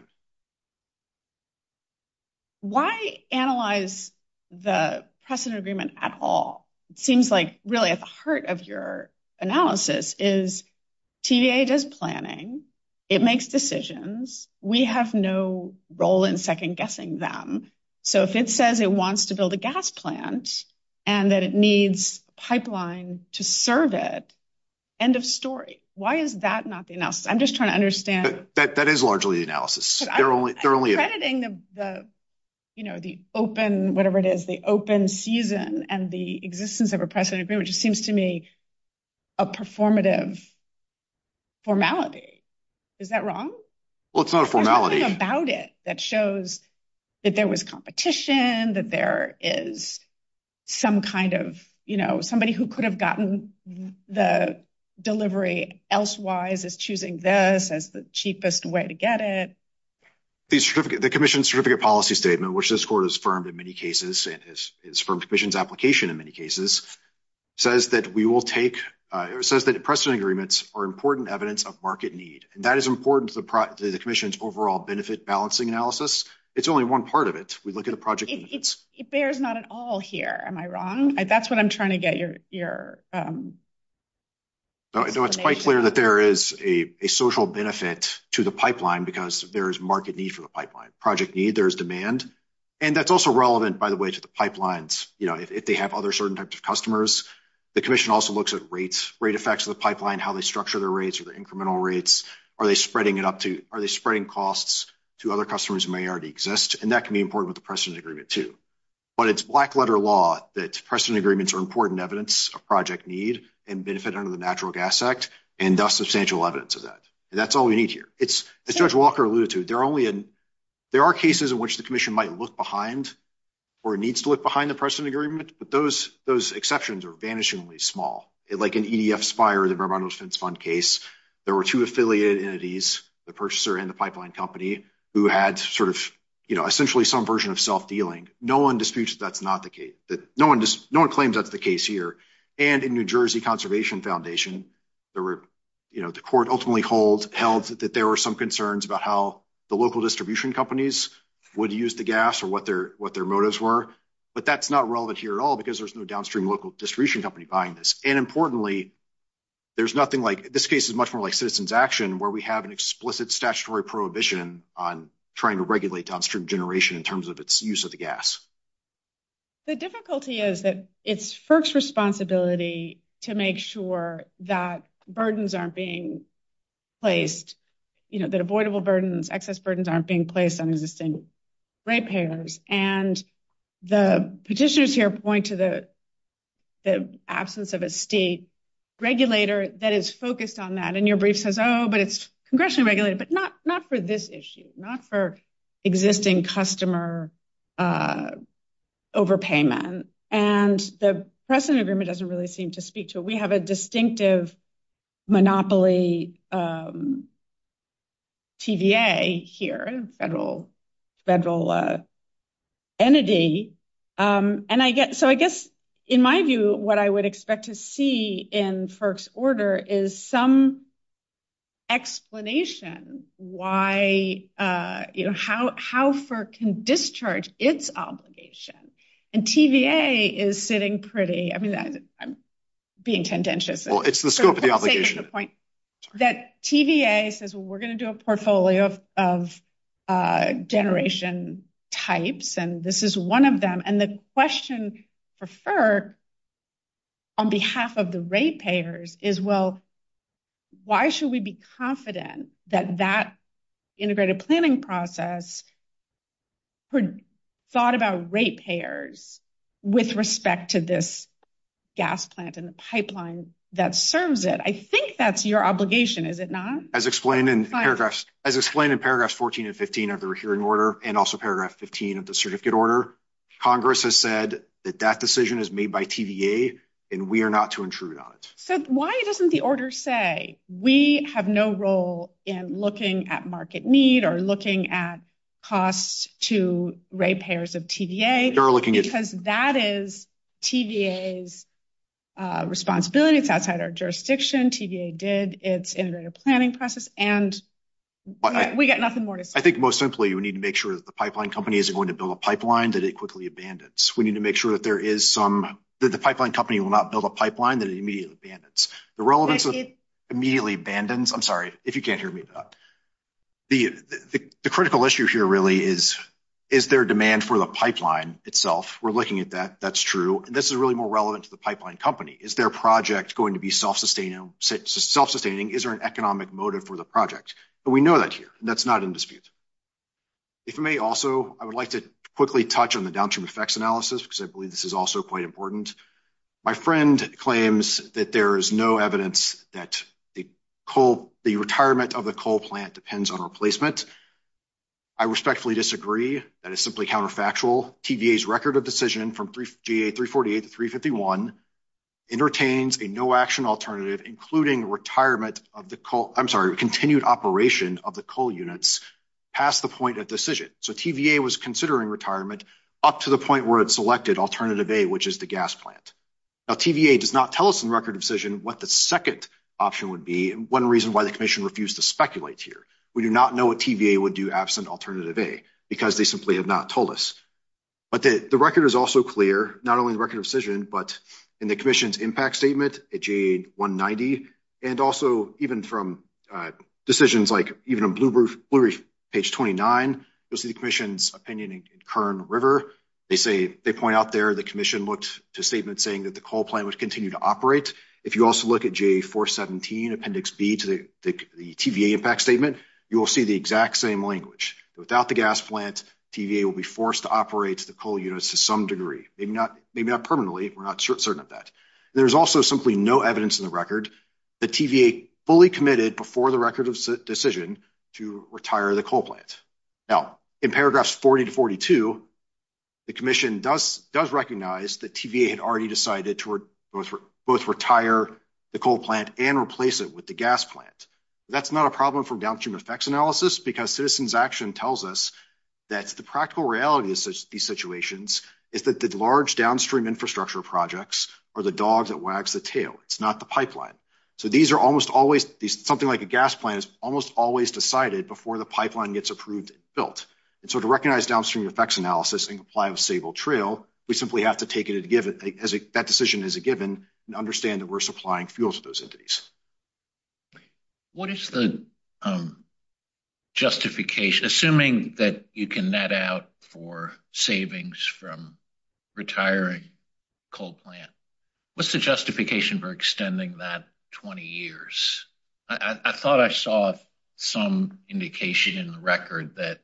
Why analyze the precedent agreement at all? It seems like really at the heart of your analysis is TVA does planning. It makes decisions. We have no role in second-guessing them. So, if it says it wants to build a gas plant and that it needs pipeline to serve it, end of story. Why is that not the analysis? I'm just trying to understand. That is largely the analysis. I'm crediting the open season and the existence of a precedent agreement, which seems to me a performative formality. Is that wrong? Well, it's not a formality. There's something about it that shows that there was competition, that there is some kind of, you know, somebody who could have gotten the delivery elsewise is choosing this as the cheapest way to get it. The Commission's Certificate Policy Statement, which this Court has affirmed in many cases, it's from Commission's application in many cases, says that we will take, says that precedent agreements are important evidence of market need. And that is important to the Commission's overall benefit balancing analysis. It's only one part of it. We look at a project… It bears not at all here. Am I wrong? That's what I'm trying to get your… No, it's quite clear that there is a social benefit to the pipeline because there is market need for the pipeline. Project need, there is demand. And that's also relevant, by the way, to the pipelines, you know, if they have other certain types of customers. The Commission also looks at rates, rate effects of the pipeline, how they structure their rates or their incremental rates. Are they spreading it up to, are they spreading costs to other customers who may already exist? And that can be important with the precedent agreement too. But it's black letter law that precedent agreements are important evidence of project need and benefit under the Natural Gas Act and thus substantial evidence of that. And that's all we need here. As Judge Walker alluded to, there are cases in which the Commission might look behind or needs to look behind the precedent agreement, but those exceptions are vanishingly small. Like in EDF Spire, the Vermont Oceans Fund case, there were two affiliated entities, the purchaser and the pipeline company, who had sort of, you know, essentially some version of self-dealing. No one disputes that that's not the case. No one claims that's the case here. And in New Jersey Conservation Foundation, there were, you know, the court ultimately held that there were some concerns about how the local distribution companies would use the gas or what their motives were. But that's not relevant here at all because there's no downstream local distribution company buying this. And importantly, there's nothing like, this case is much more like citizen's action where we have an explicit statutory prohibition on trying to regulate downstream generation in terms of its use of the gas. The difficulty is that it's FERC's responsibility to make sure that burdens aren't being placed, you know, that avoidable burdens, excess burdens aren't being placed on existing rate payers. And the petitions here point to the absence of a state regulator that is focused on that. And your brief says, oh, but it's congressionally regulated, but not for this issue, not for existing customer overpayment. And the precedent agreement doesn't really seem to speak to it. We have a distinctive monopoly TVA here, federal entity. And I guess, so I guess in my view, what I would expect to see in FERC's order is some explanation why, you know, how FERC can discharge its obligation. And TVA is sitting pretty, I mean, I'm being contentious. Well, it's the scope of the obligation. That TVA says, well, we're going to do a portfolio of generation types, and this is one of them. And the question for FERC on behalf of the rate payers is, well, why should we be confident that that integrated planning process thought about rate payers with respect to this gas plant and the pipeline that serves it? I think that's your obligation, is it not? As explained in paragraphs 14 and 15 of the hearing order, and also paragraph 15 of the certificate order, Congress has said that that decision is made by TVA, and we are not to intrude on it. So why doesn't the order say we have no role in looking at market need or looking at costs to rate payers of TVA? Because that is TVA's responsibility. It's outside our jurisdiction. TVA did its integrated planning process, and we've got nothing more to say. I think most simply, we need to make sure that the pipeline company isn't going to build a pipeline that it quickly abandons. We need to make sure that the pipeline company will not build a pipeline that it immediately abandons. The relevance of immediately abandons, I'm sorry, if you can't hear me. The critical issue here really is, is there demand for the pipeline itself? We're looking at that. That's true. And this is really more relevant to the pipeline company. Is their project going to be self-sustaining? Is there an economic motive for the project? But we know that here, and that's not in dispute. If you may also, I would like to quickly touch on the downturn effects analysis, because I believe this is also quite important. My friend claims that there is no evidence that the retirement of the coal plant depends on replacement. I respectfully disagree. That is simply counterfactual. TVA's record of decision from GA 348 to 351 entertains a no-action alternative, including continued operation of the coal units past the point of decision. So TVA was considering retirement up to the point where it selected alternative A, which is the gas plant. Now, TVA does not tell us in record of decision what the second option would be, and one reason why the commission refused to speculate here. We do not know what TVA would do absent alternative A, because they simply have not told us. But the record is also clear, not only in record of decision, but in the commission's impact statement at GA 190, and also even from decisions like even on Blu-ray, page 29, you'll see the commission's opinion in Kern River. They point out there the commission looked to statements saying that the coal plant would continue to operate. If you also look at GA 417, appendix B to the TVA impact statement, you will see the exact same language. Without the gas plant, TVA will be forced to operate the coal units to some degree. Maybe not permanently. We're not certain of that. There's also simply no evidence in the record that TVA fully committed before the record of decision to retire the coal plant. Now, in paragraphs 40 to 42, the commission does recognize that TVA had already decided to both retire the coal plant and replace it with the gas plant. That's not a problem for downstream effects analysis, because citizens' action tells us that the practical reality of these situations is that the large downstream infrastructure projects are the dog that wags the tail. It's not the pipeline. Something like a gas plant is almost always decided before the pipeline gets approved and built. To recognize downstream effects analysis and apply a stable trail, we simply have to take that decision as a given and understand that we're supplying fuels to those entities. Assuming that you can net out for savings from retiring coal plant, what's the justification for extending that 20 years? I thought I saw some indication in the record that,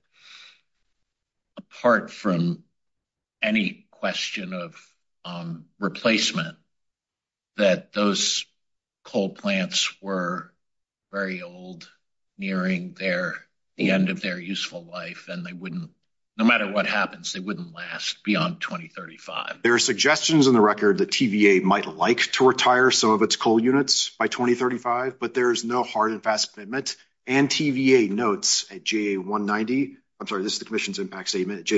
apart from any question of replacement, that those coal plants were very old, nearing the end of their useful life, and no matter what happens, they wouldn't last beyond 2035. There are suggestions in the record that TVA might like to retire some of its coal units by 2035, but there is no hard and fast commitment, and TVA notes at JA190, I'm sorry, this is the commission's impact statement,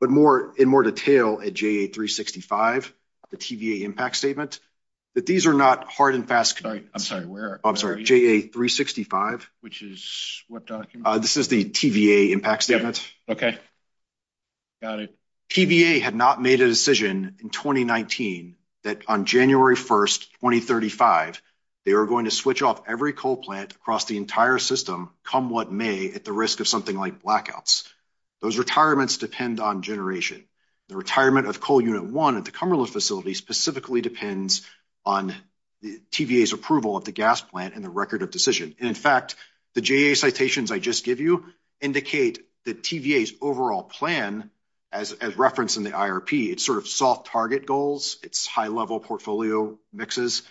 but in more detail at JA365, the TVA impact statement, that these are not hard and fast commitments. I'm sorry, where are you? I'm sorry, JA365. Which is what document? This is the TVA impact statement. Got it. TVA made the decision in 2019 that on January 1st, 2035, they were going to switch off every coal plant across the entire system, come what may, at the risk of something like blackouts. Those retirements depend on generation. The retirement of coal unit one at the Cumberland facility specifically depends on TVA's approval at the gas plant and the record of decision. In fact, the JA citations I just gave you indicate that TVA's overall plan, as referenced in the IRP, has sort of soft target goals. It's high-level portfolio mixes.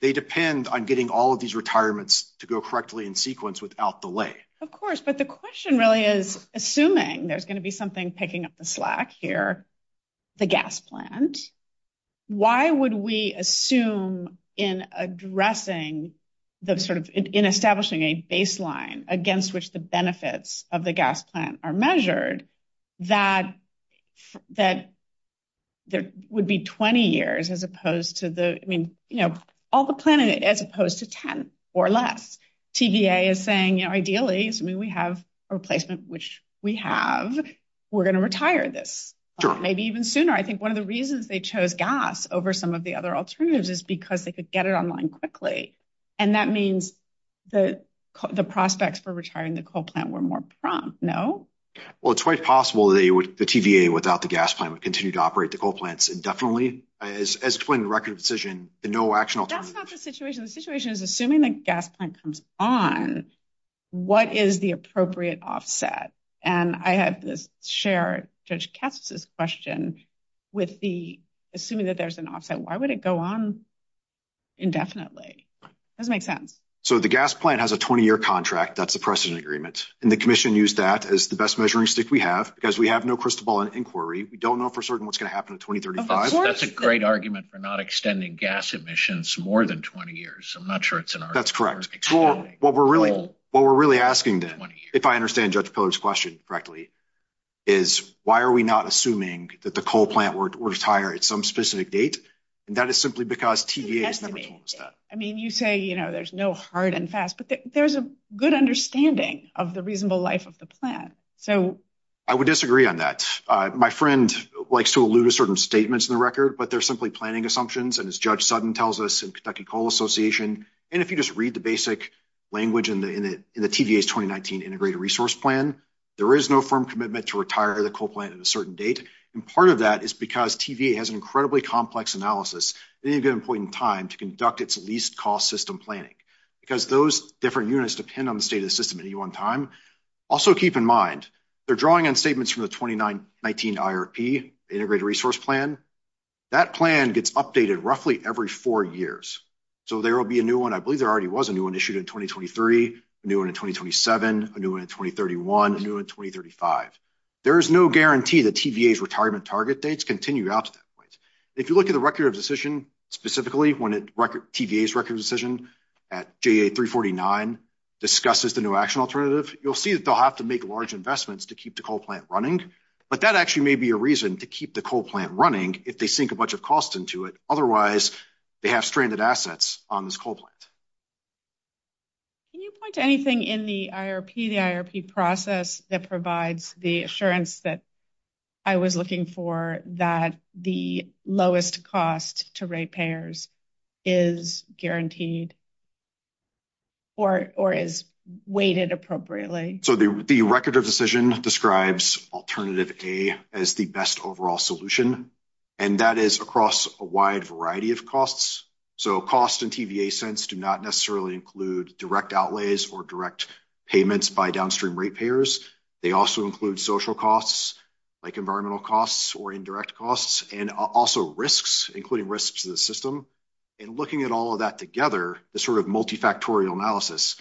They depend on getting all of these retirements to go correctly in sequence without delay. Of course, but the question really is, assuming there's going to be something picking up the slack here, the gas plant, why would we assume in addressing the sort of, in establishing a baseline against which the benefits of the gas plant are measured, that there would be 20 years as opposed to the, I mean, you know, all the planning as opposed to 10 or less? TVA is saying, you know, ideally, assuming we have a replacement, which we have, we're going to retire this. Maybe even sooner. I think one of the reasons they chose gas over some of the other alternatives is because they could get it online quickly. And that means the prospects for retiring the coal plant were more prompt, no? Well, it's quite possible the TVA, without the gas plant, would continue to operate the coal plants indefinitely. As explained in the record of the decision, there's no actual alternative. That's not the situation. The situation is, assuming the gas plant comes on, what is the appropriate offset? And I had to share Judge Katz's question with the, assuming that there's an offset, why would it go on indefinitely? That doesn't make sense. So the gas plant has a 20-year contract. That's the precedent agreement. And the commission used that as the best measuring stick we have, because we have no crystal ball in inquiry. We don't know for certain what's going to happen in 2035. That's a great argument for not extending gas emissions more than 20 years. I'm not sure it's an argument. That's correct. Well, what we're really, what we're really asking then, if I understand Judge Pogue's question correctly, is why are we not assuming that the coal plant will retire at some specific date? And that is simply because TVA. I mean, you say, you know, there's no hard and fast, but there's a good understanding of the reasonable life of the plant. I would disagree on that. My friend likes to allude to certain statements in the record, but they're simply planning assumptions. And as Judge Sutton tells us in Kentucky Coal Association, and if you just read the basic language in the TVA's 2019 integrated resource plan, there is no firm commitment to retire the coal plant at a certain date. And part of that is because TVA has an incredibly complex analysis. They need to get an important time to conduct its least cost system planning, because those different units depend on the state of the system at any one time. Also, keep in mind, they're drawing on statements from the 2019 IRP, integrated resource plan. That plan gets updated roughly every four years. So there will be a new one. I believe there already was a new one issued in 2023, a new one in 2027, a new one in 2031, a new one in 2035. There is no guarantee that TVA's retirement target dates continue out to that point. If you look at the record of decision, specifically when TVA's record decision at GA349 discusses the new action alternative, you'll see that they'll have to make large investments to keep the coal plant running. But that actually may be a reason to keep the coal plant running if they sink a bunch of costs into it. Otherwise, they have stranded assets on this coal plant. Can you point to anything in the IRP, the IRP process that provides the assurance that I was looking for that the lowest cost to rate payers is guaranteed or is weighted appropriately? So the record of decision describes alternative A as the best overall solution. And that is across a wide variety of costs. So costs in TVA's sense do not necessarily include direct outlays or direct payments by downstream rate payers. They also include social costs, like environmental costs or indirect costs, and also risks, including risks to the system. And looking at all of that together, the sort of multifactorial analysis,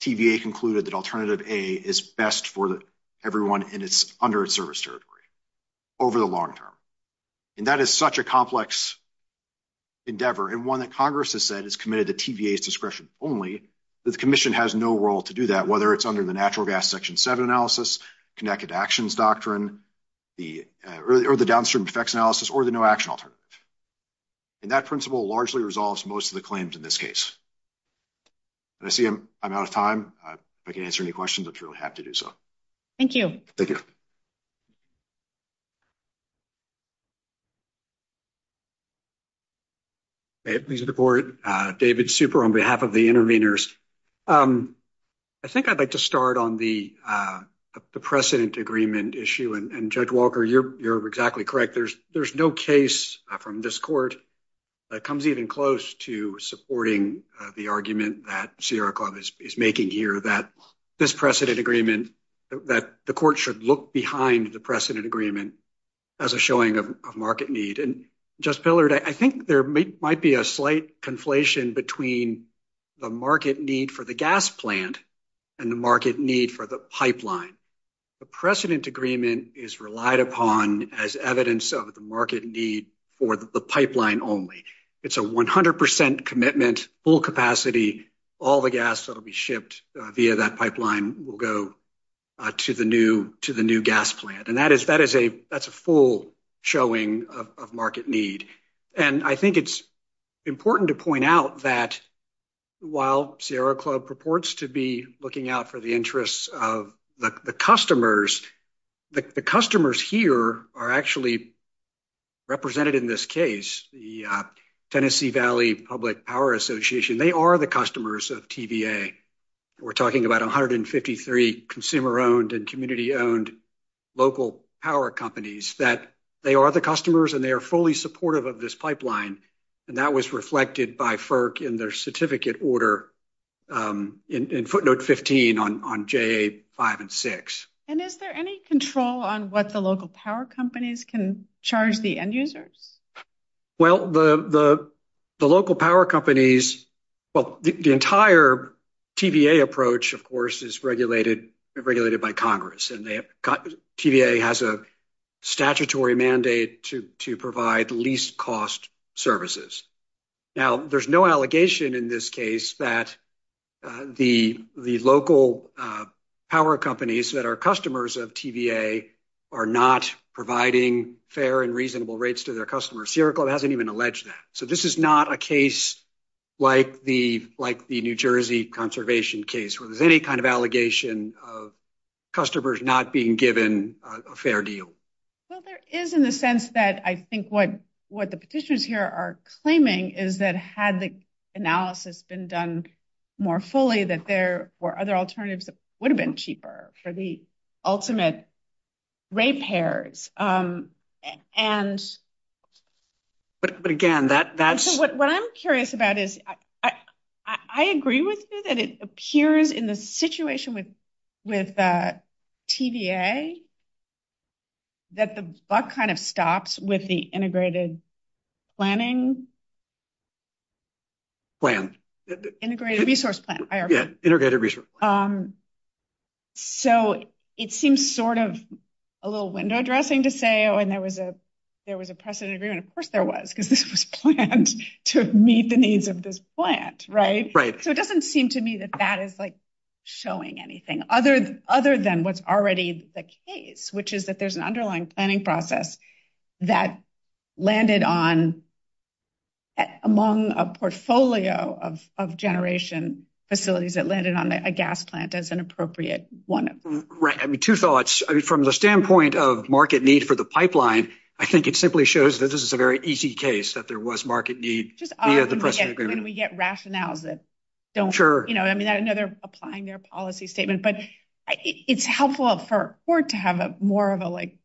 TVA concluded that alternative A is best for everyone in its under-serviced territory over the long term. And that is such a complex endeavor. It's not one that Congress has said is committed to TVA's discretion only. The Commission has no role to do that, whether it's under the Natural Gas Section 7 analysis, Connected Actions Doctrine, or the Downstream Effects Analysis, or the No Action Alternative. And that principle largely resolves most of the claims in this case. I see I'm out of time. If I can't answer any questions, I'd be really happy to do so. Thank you. David Super on behalf of the intervenors. I think I'd like to start on the precedent agreement issue. And Judge Walker, you're exactly correct. There's no case from this court that comes even close to supporting the argument that Sierra Club is making here, that this precedent agreement, that the court should look behind the precedent agreement as a showing of market need. And Judge Pillard, I think there might be a slight conflation between the market need for the gas plant and the market need for the pipeline. The precedent agreement is relied upon as evidence of the market need for the pipeline only. It's a 100% commitment, full capacity, all the gas that will be shipped via that pipeline will go to the new gas plant. And that is a full showing of market need. And I think it's important to point out that while Sierra Club purports to be looking out for the interests of the customers, the customers here are actually represented in this case. The Tennessee Valley Public Power Association, they are the customers of TVA. We're talking about 153 consumer-owned and community-owned local power companies, that they are the customers and they are fully supportive of this pipeline. And that was reflected by FERC in their certificate order in footnote 15 on JA 5 and 6. And is there any control on what the local power companies can charge the end users? Well, the local power companies, well, the entire TVA approach, of course, is regulated by Congress. TVA has a statutory mandate to provide least cost services. Now, there's no allegation in this case that the local power companies that are customers of TVA are not providing fair and reasonable rates to their customers. Sierra Club hasn't even alleged that. So this is not a case like the New Jersey conservation case, where there's any kind of allegation of customers not being given a fair deal. Well, there is in the sense that I think what the petitioners here are claiming is that had the analysis been done more fully, that there were other alternatives that would have been cheaper for the ultimate rate pairs. But again, that's... What I'm curious about is, I agree with you that it appears in the situation with TVA that the buck kind of stops with the integrated planning. Plan. Integrated resource plan. Integrated resource plan. So it seems sort of a little window dressing to say, oh, and there was a precedent agreement. Of course there was, because it was planned to meet the needs of this plant, right? So it doesn't seem to me that that is showing anything other than what's already the case, which is that there's an underlying planning process that landed on, among a portfolio of generation facilities, that landed on a gas plant as an appropriate one. Right. I mean, two thoughts. From the standpoint of market need for the pipeline, I think it simply shows that this is a very easy case that there was market need via the precedent agreement. When we get rationales that don't... I know they're applying their policy statement, but it's helpful for Ford to have more of a, like,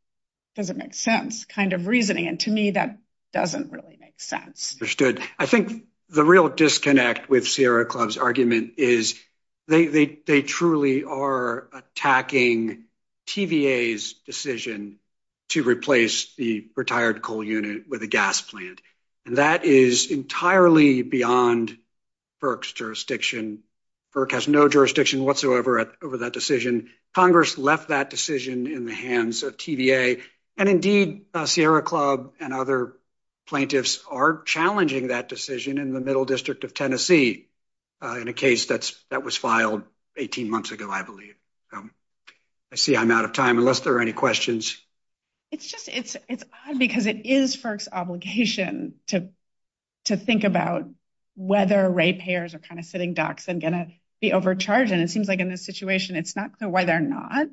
does it make sense kind of reasoning. And to me, that doesn't really make sense. Understood. I think the real disconnect with Sierra Club's argument is that they truly are attacking TVA's decision to replace the retired coal unit with a gas plant. And that is entirely beyond FERC's jurisdiction. FERC has no jurisdiction whatsoever over that decision. Congress left that decision in the hands of TVA. And indeed, Sierra Club and other plaintiffs are challenging that decision in the Middle District of Tennessee in a case that was filed 18 months ago, I believe. I see I'm out of time, unless there are any questions. It's odd because it is FERC's obligation to think about whether rate payers are kind of sitting ducks and going to be overcharged. And it seems like in this situation, it's not clear why they're not,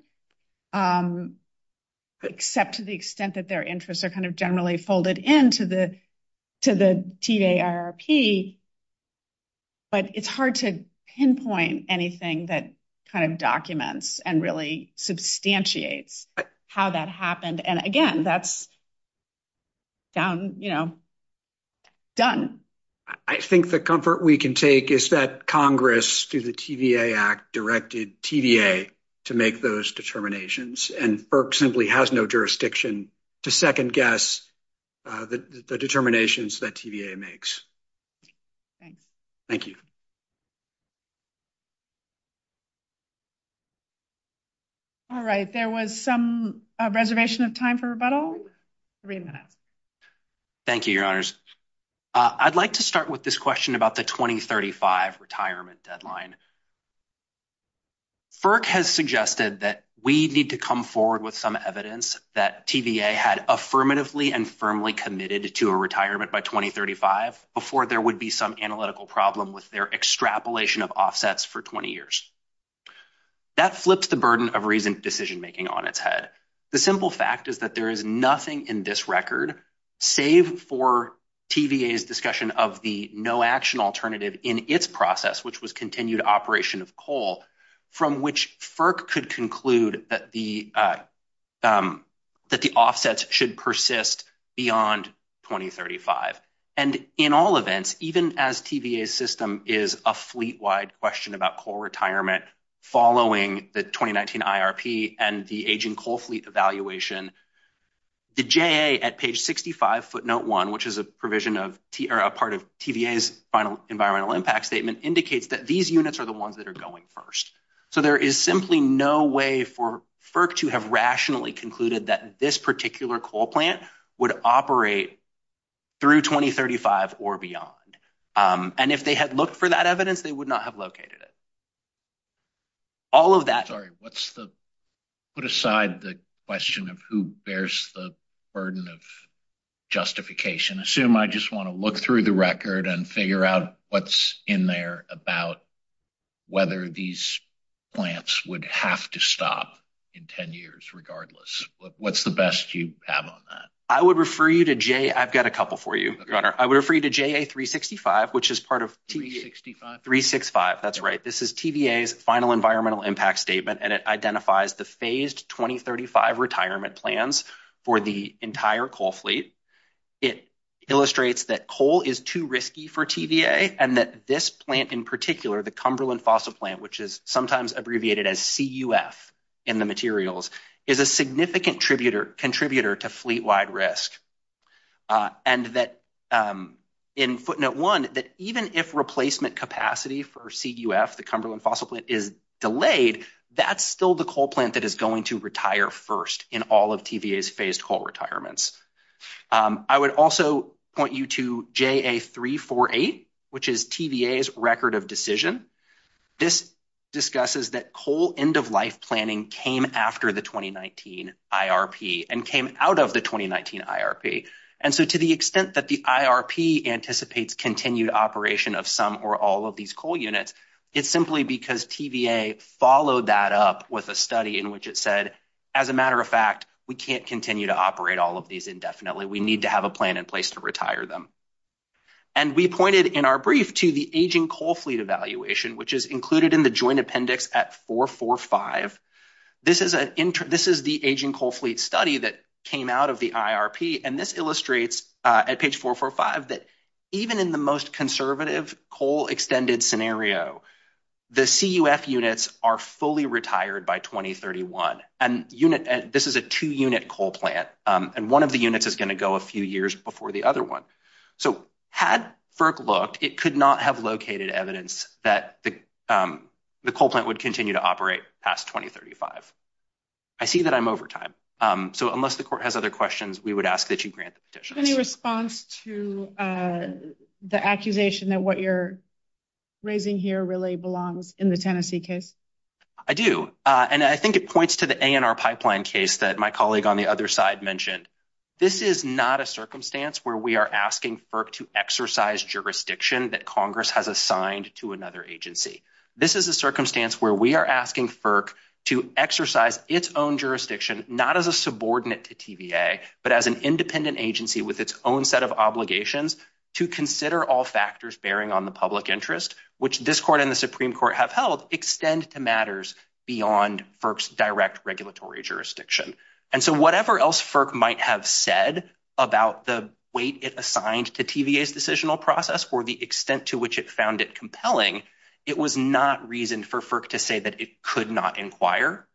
except to the extent that their interests are kind of generally folded in to the TVA IRP. But it's hard to pinpoint anything that kind of documents and really substantiates how that happened. And again, that's done. I think the comfort we can take is that Congress, through the TVA Act, directed TVA to make those determinations. And FERC simply has no jurisdiction to second-guess the determinations that TVA makes. Thank you. All right. There was some reservation of time for rebuttal. Three minutes. Thank you, Your Honors. I'd like to start with this question about the 2035 retirement deadline. FERC has suggested that we need to come forward with some evidence that TVA had affirmatively and firmly committed to a retirement by 2035 before there would be some analytical problem with their extrapolation of offsets for 20 years. That flips the burden of recent decision-making on its head. The simple fact is that there is nothing in this record, save for TVA's discussion of the no-action alternative in its process, which was continued operation of coal, from which FERC could conclude that the offsets should persist beyond 2035. In all events, even as TVA's system is a fleet-wide question about coal retirement following the 2019 IRP and the aging coal fleet evaluation, the J.A. at page 65, footnote 1, which is a part of TVA's final environmental impact statement, indicates that these units are the ones that are going first. So there is simply no way for FERC to have rationally concluded that this particular coal plant would operate through 2035 or beyond. And if they had looked for that evidence, they would not have located it. All of that... Sorry, what's the... Put aside the question of who bears the burden of justification. Assume I just want to look through the record and figure out what's in there about whether these plants would have to stop in 10 years regardless. What's the best you have on that? I would refer you to J.A. I've got a couple for you, Your Honor. I would refer you to J.A. 365, which is part of TVA... 365, that's right. This is TVA's final environmental impact statement, and it identifies the phased 2035 retirement plans for the entire coal fleet. It illustrates that coal is too risky for TVA and that this plant in particular, the Cumberland Fossil Plant, which is sometimes abbreviated as CUF in the materials, is a significant contributor to fleet-wide risk. And that in footnote one, that even if replacement capacity for CUF, the Cumberland Fossil Plant, is delayed, that's still the coal plant that is going to retire first in all of TVA's phased coal retirements. I would also point you to J.A. 348, which is TVA's record of decision. This discusses that coal end-of-life planning came after the 2019 IRP and came out of the 2019 IRP. And so to the extent that the IRP anticipates continued operation of some or all of these coal units, it's simply because TVA followed that up with a study in which it said, as a matter of fact, we can't continue to operate all of these indefinitely. We need to have a plan in place to retire them. And we pointed in our brief to the aging coal fleet evaluation, which is included in the joint appendix at 445. This is the aging coal fleet study that came out of the IRP, and it illustrates at page 445 that even in the most conservative coal extended scenario, the CUF units are fully retired by 2031. And this is a two-unit coal plant, and one of the units is going to go a few years before the other one. So had FERC looked, it could not have located evidence that the coal plant would continue to operate past 2035. I see that I'm over time. So unless the court has other questions, Any response to the accusation that what you're raising here really belongs in the Tennessee case? I do. And I think it points to the ANR pipeline case that my colleague on the other side mentioned. This is not a circumstance where we are asking FERC to exercise jurisdiction that Congress has assigned to another agency. This is a circumstance where we are asking FERC to exercise its own jurisdiction, not as a subordinate to TVA, but as an independent agency with its own set of obligations to consider all factors bearing on the public interest, which this court and the Supreme Court have held, extend to matters beyond FERC's direct regulatory jurisdiction. And so whatever else FERC might have said about the weight it assigned to TVA's decisional process or the extent to which it found it compelling, it was not reason for FERC to say that it could not inquire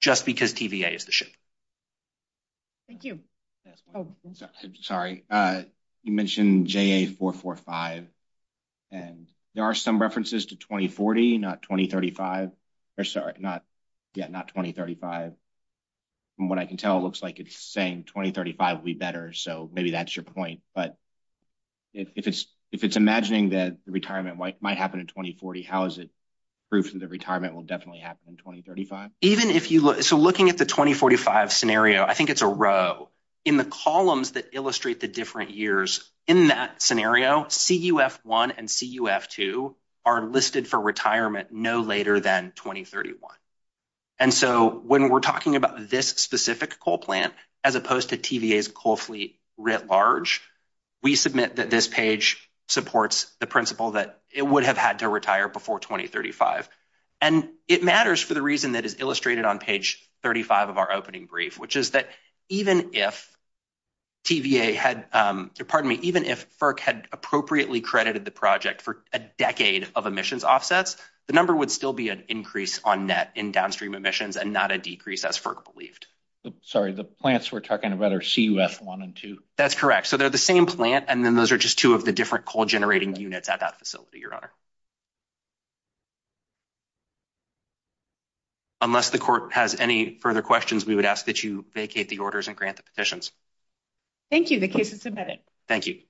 just because TVA is the shooter. Thank you. Sorry. You mentioned JA 445. And there are some references to 2040, not 2035. Yeah, not 2035. From what I can tell, it looks like it's saying 2035 would be better. So maybe that's your point. But if it's imagining that the retirement might happen in 2040, how is it proof that the retirement will definitely happen in 2035? So looking at the 2045, I think it's a row. In the columns that illustrate the different years in that scenario, CUF 1 and CUF 2 are listed for retirement no later than 2031. And so when we're talking about this specific coal plant, as opposed to TVA's coal fleet writ large, we submit that this page supports the principle that it would have had to retire before 2035. And it matters for the reason that is illustrated on page 35 of our opening brief, which is that even if TVA had, pardon me, even if FERC had appropriately credited the project for a decade of emissions offsets, the number would still be an increase on net in downstream emissions and not a decrease as FERC believed. Sorry, the plants we're talking about are CUF 1 and 2. That's correct. So they're the same plant, and then those are just two of the different coal generating units at that facility, Your Honor. If you have any questions, we would ask that you vacate the orders and grant the petitions. Thank you. The case is submitted. Thank you.